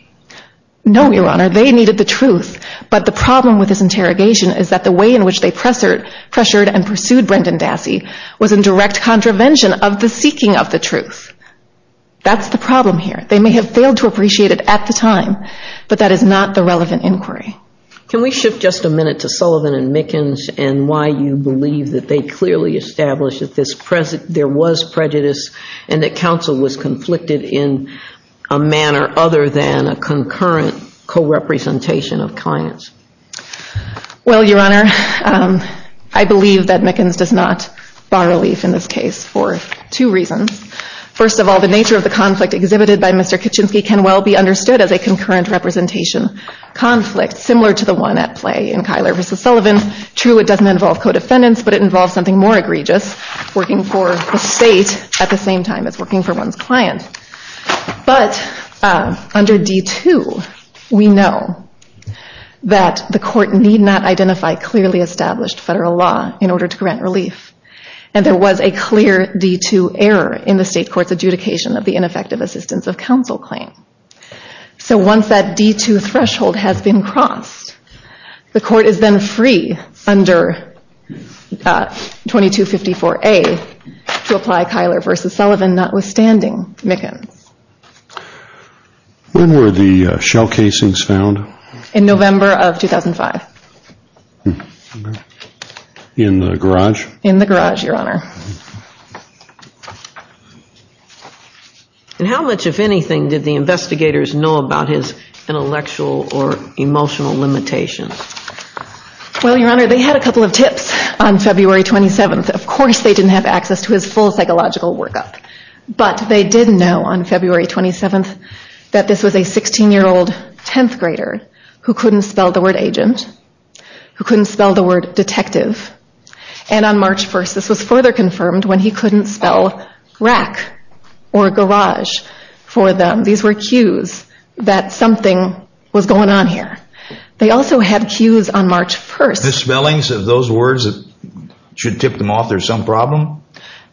No, Your Honor. They needed the truth, but the problem with this interrogation is that the way in which they pressured and pursued Brendan Dassey was in direct contravention of the seeking of the truth. That's the problem here. They may have failed to appreciate it at the time, but that is not the relevant inquiry. Can we shift just a minute to Sullivan and Mickens and why you believe that they clearly established that there was prejudice and that counsel was conflicted in a manner other than a concurrent co-representation of clients? Well, Your Honor, I believe that Mickens does not bar relief in this case for two reasons. First of all, the nature of the conflict exhibited by Mr. Kaczynski can well be understood as a concurrent representation conflict similar to the one at play in Kyler v. Sullivan. True, it doesn't involve co-defendants, but it involves something more egregious, working for the state at the same time as working for one's client. But under D-2, we know that the court need not identify clearly established federal law in order to grant relief. And there was a clear D-2 error in the state court's adjudication of the ineffective assistance of counsel claim. So once that D-2 threshold has been crossed, the court is then free under 2254A to apply Kyler v. Sullivan, notwithstanding Mickens. When were the shell casings found? In November of 2005. In the garage? In the garage, Your Honor. And how much, if anything, did the investigators know about his intellectual or emotional limitations? Well, Your Honor, they had a couple of tips on February 27th. Of course they didn't have access to his full psychological workup, but they did know on February 27th that this was a 16-year-old 10th grader who couldn't spell the word agent, who couldn't spell the word detective, and on March 1st this was further confirmed when he couldn't spell rack or garage for them. These were cues that something was going on here. They also had cues on March 1st. The spellings of those words should tip them off there's some problem?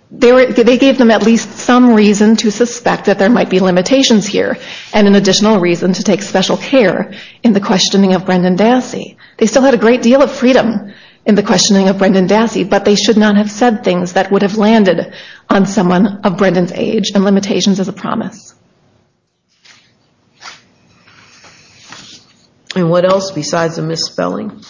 They gave them at least some reason to suspect that there might be limitations here and an additional reason to take special care in the questioning of Brendan Dassey. They still had a great deal of freedom in the questioning of Brendan Dassey, but they should not have said things that would have landed on someone of Brendan's age and limitations as a promise. And what else besides the misspelling?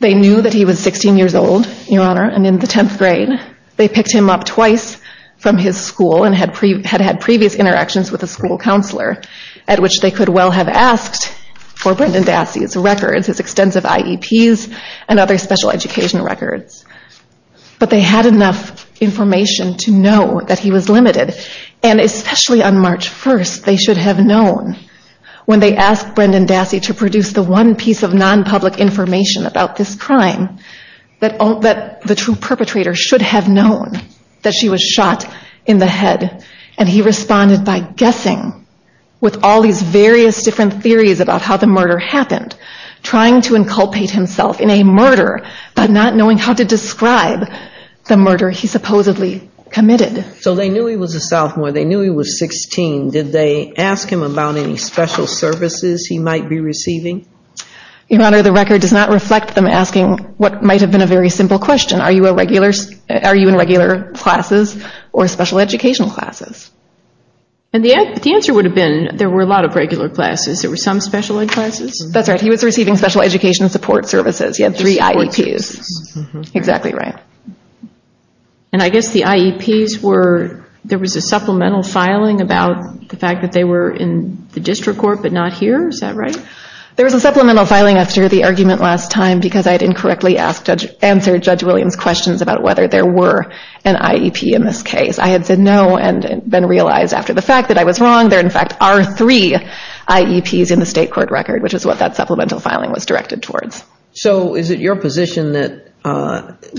They knew that he was 16 years old, Your Honor, and in the 10th grade they picked him up twice from his school and had had previous interactions with a school counselor at which they could well have asked for Brendan Dassey's records, his extensive IEPs and other special education records. But they had enough information to know that he was limited and especially on March 1st they should have known when they asked Brendan Dassey to produce the one piece of non-public information about this crime that the true perpetrator should have known that she was shot in the head and he responded by guessing with all these various different theories about how the murder happened trying to inculpate himself in a murder but not knowing how to describe the murder he supposedly committed. So they knew he was a sophomore, they knew he was 16. Did they ask him about any special services he might be receiving? Your Honor, the record does not reflect them asking what might have been a very simple question. Are you in regular classes or special educational classes? And the answer would have been there were a lot of regular classes. There were some special ed classes. That's right, he was receiving special education support services. He had three IEPs. Exactly right. And I guess the IEPs were there was a supplemental filing about the fact that they were in the district court but not here. Is that right? There was a supplemental filing after the argument last time because I had incorrectly answered Judge Williams' questions about whether there were an IEP in this case. I had said no and then realized after the fact that I was wrong there in fact are three IEPs in the state court record which is what that supplemental filing was directed towards. So is it your position that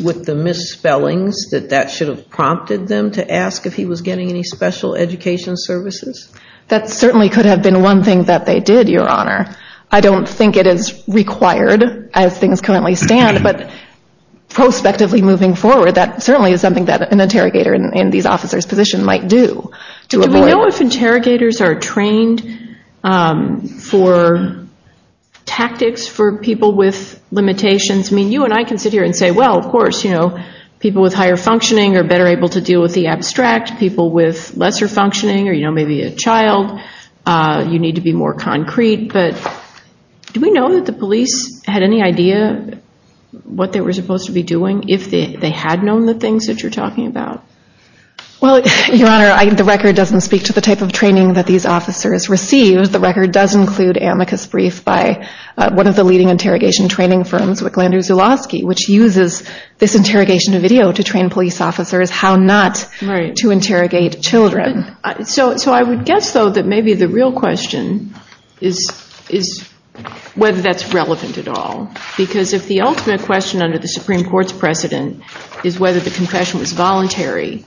with the misspellings that that should have prompted them to ask if he was getting any special education services? That certainly could have been one thing that they did, Your Honor. I don't think it is required as things currently stand but prospectively moving forward that certainly is something that an interrogator in these officers' position might do to avoid it. Do we know if interrogators are trained for tactics for people with limitations? I mean you and I can sit here and say well of course people with higher functioning are better able to deal with the abstract. People with lesser functioning or you know maybe a child you need to be more concrete but do we know that the police had any idea what they were supposed to be doing if they had known the things that you're talking about? Well, Your Honor, the record doesn't speak to the type of training that these officers received. The record does include amicus brief by one of the leading interrogation training firms with Glenda Zulawski which uses this interrogation video to train police officers how not to interrogate children. So I would guess though that maybe the real question is whether that's relevant at all because if the ultimate question under the Supreme Court's precedent is whether the confession was voluntary,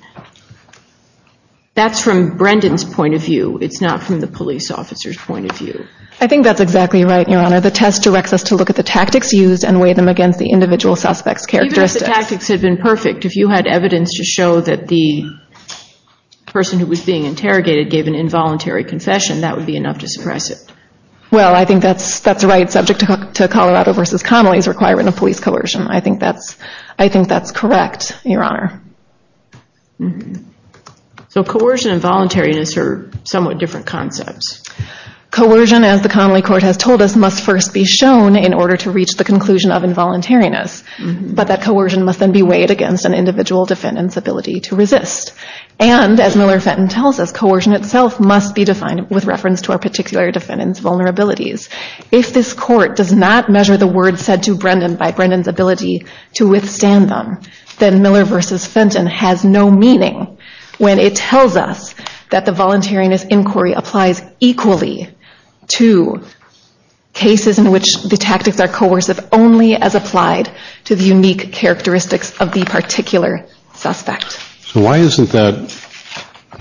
that's from Brendan's point of view. It's not from the police officer's point of view. I think that's exactly right, Your Honor. The test directs us to look at the tactics used and weigh them against the individual suspect's characteristics. Even if the tactics had been perfect, if you had evidence to show that the person who was being interrogated gave an involuntary confession, that would be enough to suppress it. Well, I think that's right. Subject to Colorado versus Connolly is requirement of police coercion. I think that's correct, Your Honor. So coercion and voluntariness are somewhat different concepts. Coercion, as the Connolly court has told us, must first be shown in order to reach the conclusion of involuntariness. But that coercion must then be weighed against an individual defendant's ability to resist. And, as Miller-Fenton tells us, coercion itself must be defined with reference to a particular defendant's vulnerabilities. If this court does not measure the words said to Brendan by Brendan's ability to withstand them, then Miller versus Fenton has no meaning when it tells us that the voluntariness inquiry applies equally to cases in which the tactics are coercive only as applied to the unique characteristics of the defendant. So why isn't that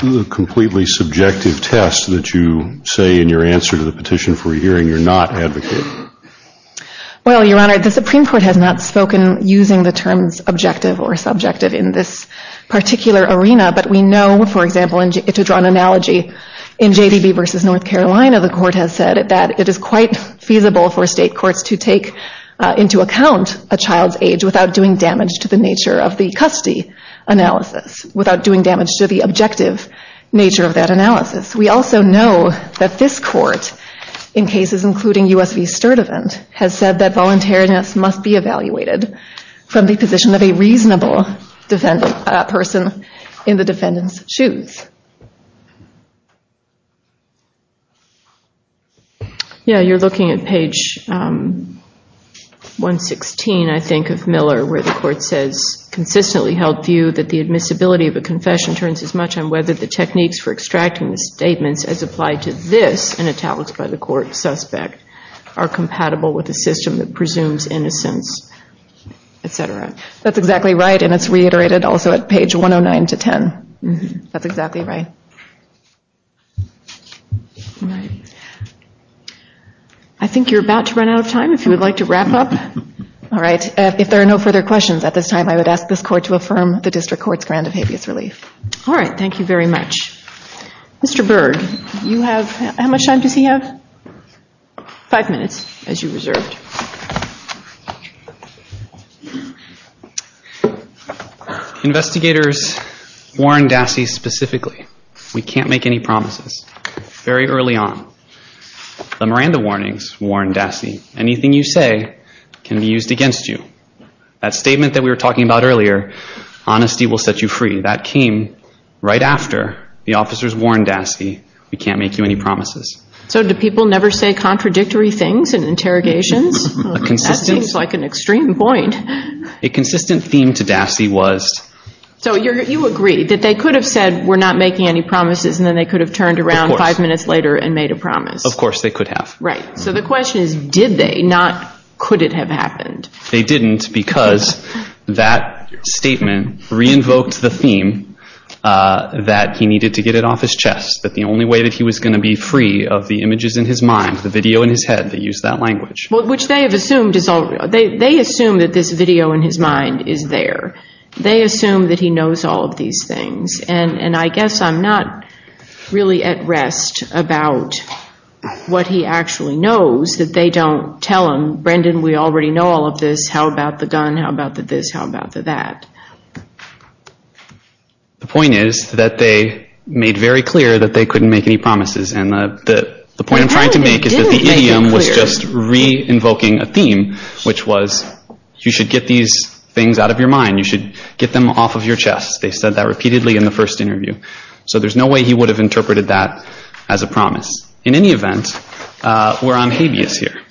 a completely subjective test that you say in your answer to the petition for hearing you're not advocating? Well, Your Honor, the Supreme Court has not spoken using the terms objective or subjective in this particular arena, but we know, for example, to draw an analogy, versus North Carolina, the court has said that it is quite feasible for state courts to take into account a child's age without doing damage to the child. Without doing damage to the nature of the custody analysis. Without doing damage to the objective nature of that analysis. We also know that this court, in cases including U.S. v. Sturdivant, has said that voluntariness must be evaluated from the position of a reasonable person you're looking at page 116, I think, of Miller, where the court says that it is not a matter of objective or subjective analysis but rather that the court says consistently held view that the admissibility of a confession turns as much on whether the techniques for extracting the statements as applied to this in italics by the court suspect are compatible with the system that presumes innocence, etc. That's exactly right and it's reiterated also at page 109-10. That's exactly right. I think you're about to run out of time if you would like to wrap up. All right. If there are no further questions at this time, I would ask this court to affirm the District Court's grant of habeas relief. All right. Thank you very much. Mr. Byrd, how much time does he have? Five minutes as you reserved. Investigators warn Dassey specifically. We can't make any promises very early on. The Miranda warnings warn Dassey. Anything you say can be used against you. That statement that we were talking about earlier, honesty will set you free. That came right after the officers warned Dassey. We can't make you any promises. So do people never say contradictory things in interrogations? A consistent... That seems like an extreme point. A consistent theme to Dassey was... So you agree that they could have said we're not making any promises and then they could have turned around five minutes later and made a promise. Of course they could have. Right. So the question is did they, not could it have happened? They didn't because that statement re-invoked the theme that he needed to get it off his chest. That the only way that he was going to be free of the images in his mind, the video in his head, they used that language. Which they have assumed is all... They assume that this video in his mind is there. They assume that he knows all of these things and I guess I'm not really at rest about what he actually knows that they don't tell him, Brendan we already know all of this, how about the gun, how about the this, how about the that. The point is that they made very clear that they couldn't make any promises and the point I'm trying to make is that the idiom was just re-invoking a theme which was you should get these things out of your mind, you should get them off of your chest. They said that repeatedly in the first interview. So there's no way he would have interpreted that as a promise. In any event, we're on habeas here.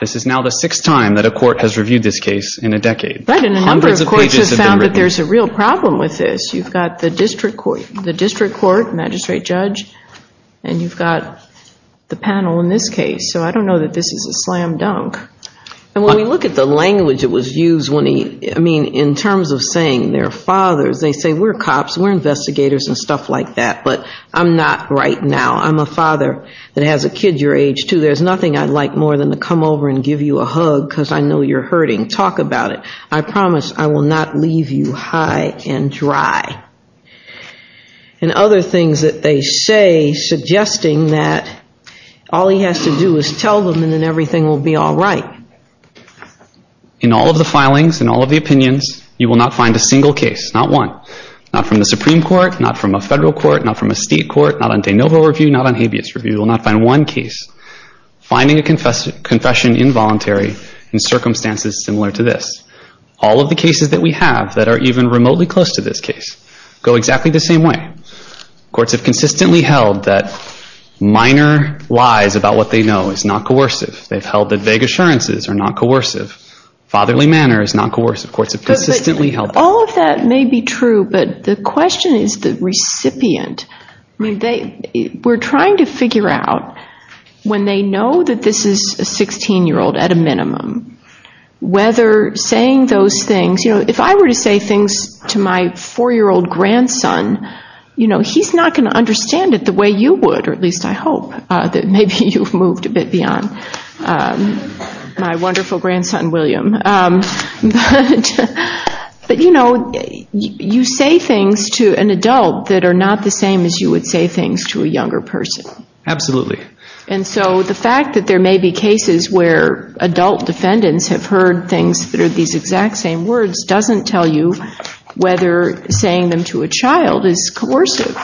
This is now the sixth time that a court has reviewed this case in a decade. Hundreds of pages have been written. A number of courts have found that there's a real problem with this. You've got the district court, magistrate judge and you've got the panel in this case. So I don't know that this is a slam dunk. And when we look at the language that was used when he... I mean in terms of saying they're fathers, they say we're cops, we're investigators and stuff like that. But I'm not right now. I'm a father that has a kid your age too. There's nothing I'd like more than to come over and give you a hug because I know you're hurting. Talk about it. I promise I will not leave you high and dry. And other things that they say suggesting that all he has to do is tell them and then everything will be all right. In all of the filings and all of the opinions, you will not find a single case, not one. Not from the Supreme Court, not from a federal court, not from a state court, not on de novo review, not on habeas review. You will not find one case. Finding a confession involuntary in circumstances similar to this. All of the cases that we have that are even remotely close to this case go exactly the same way. Courts have consistently held that minor lies about what they know is not coercive. They've held that vague assurances are not coercive. Fatherly manner is not coercive. Courts have consistently held that. All of that may be true, but the question is the recipient. We're trying to figure out when they know that this is a 16-year-old at a minimum, whether saying those things, you know, if I were to say things to my 4-year-old grandson, you know, he's not going to understand it the way you would, or at least I hope that maybe you've moved a bit beyond my wonderful grandson, William. But, you know, you say things to an adult that are not the same as you would say things to a younger person. Absolutely. And so the fact that there may be cases where adult defendants have heard things that are these doesn't tell you whether saying them to a child is coercive.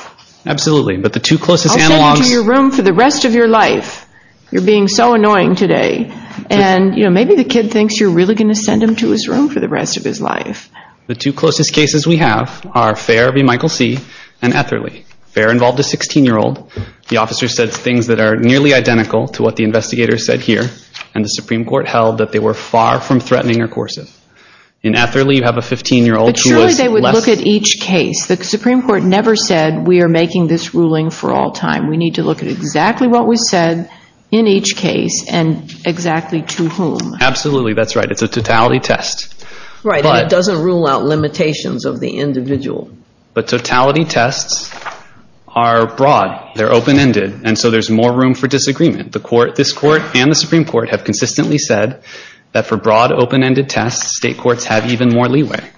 Absolutely. But the two closest analogs... I'll send them to your room for the rest of your life. You're being so annoying today. And, you know, maybe the kid thinks you're really going to send him to his room for the rest of his life. The two closest cases we have are Fair v. Michael C. and Etherly. Fair involved a 16-year-old. The officer said things that are nearly identical to what the investigator said here. And the Supreme Court held that they were far from threatening or coercive. In Etherly, you have a 15-year-old who was less... But surely they would look at each case. The Supreme Court never said we are making this ruling for all time. We need to look at exactly what was said in each case and exactly to whom. Absolutely. That's right. It's a totality test. Right. And it doesn't rule out limitations of the individual. But totality tests are broad. They're open-ended. And so there's more room for disagreement. This Court and the Supreme Court have consistently said that for broad, open-ended tests, state courts have even more leeway.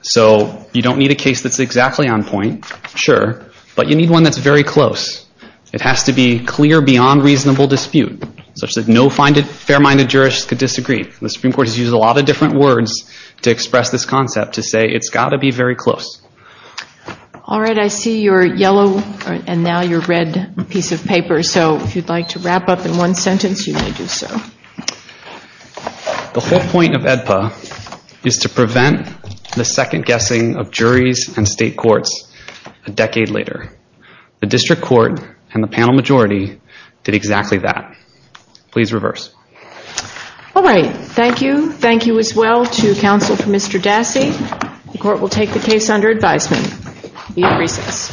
So you don't need a case that's exactly on point. Sure. But you need one that's very close. It has to be clear beyond reasonable dispute, such that no fair-minded jurists could disagree. The Supreme Court has used a lot of different words to express this concept to say it's got to be very close. All right. I see your yellow and now your red piece of paper. So if you'd like to wrap up in one sentence, you may do so. The whole point of AEDPA is to prevent the second guessing of juries and state courts a decade later. The District Court and the panel majority did exactly that. Please reverse. All right. Thank you. Thank you as well to counsel for Mr. Dassey. The court will take the case under advisement. We have recess. Are we in recess? We're in recess. the first reading of the first part of the AEDPA written by Ms. M. B. Donovan. We have a motion to approve the first reading the second reading Ms. M. B.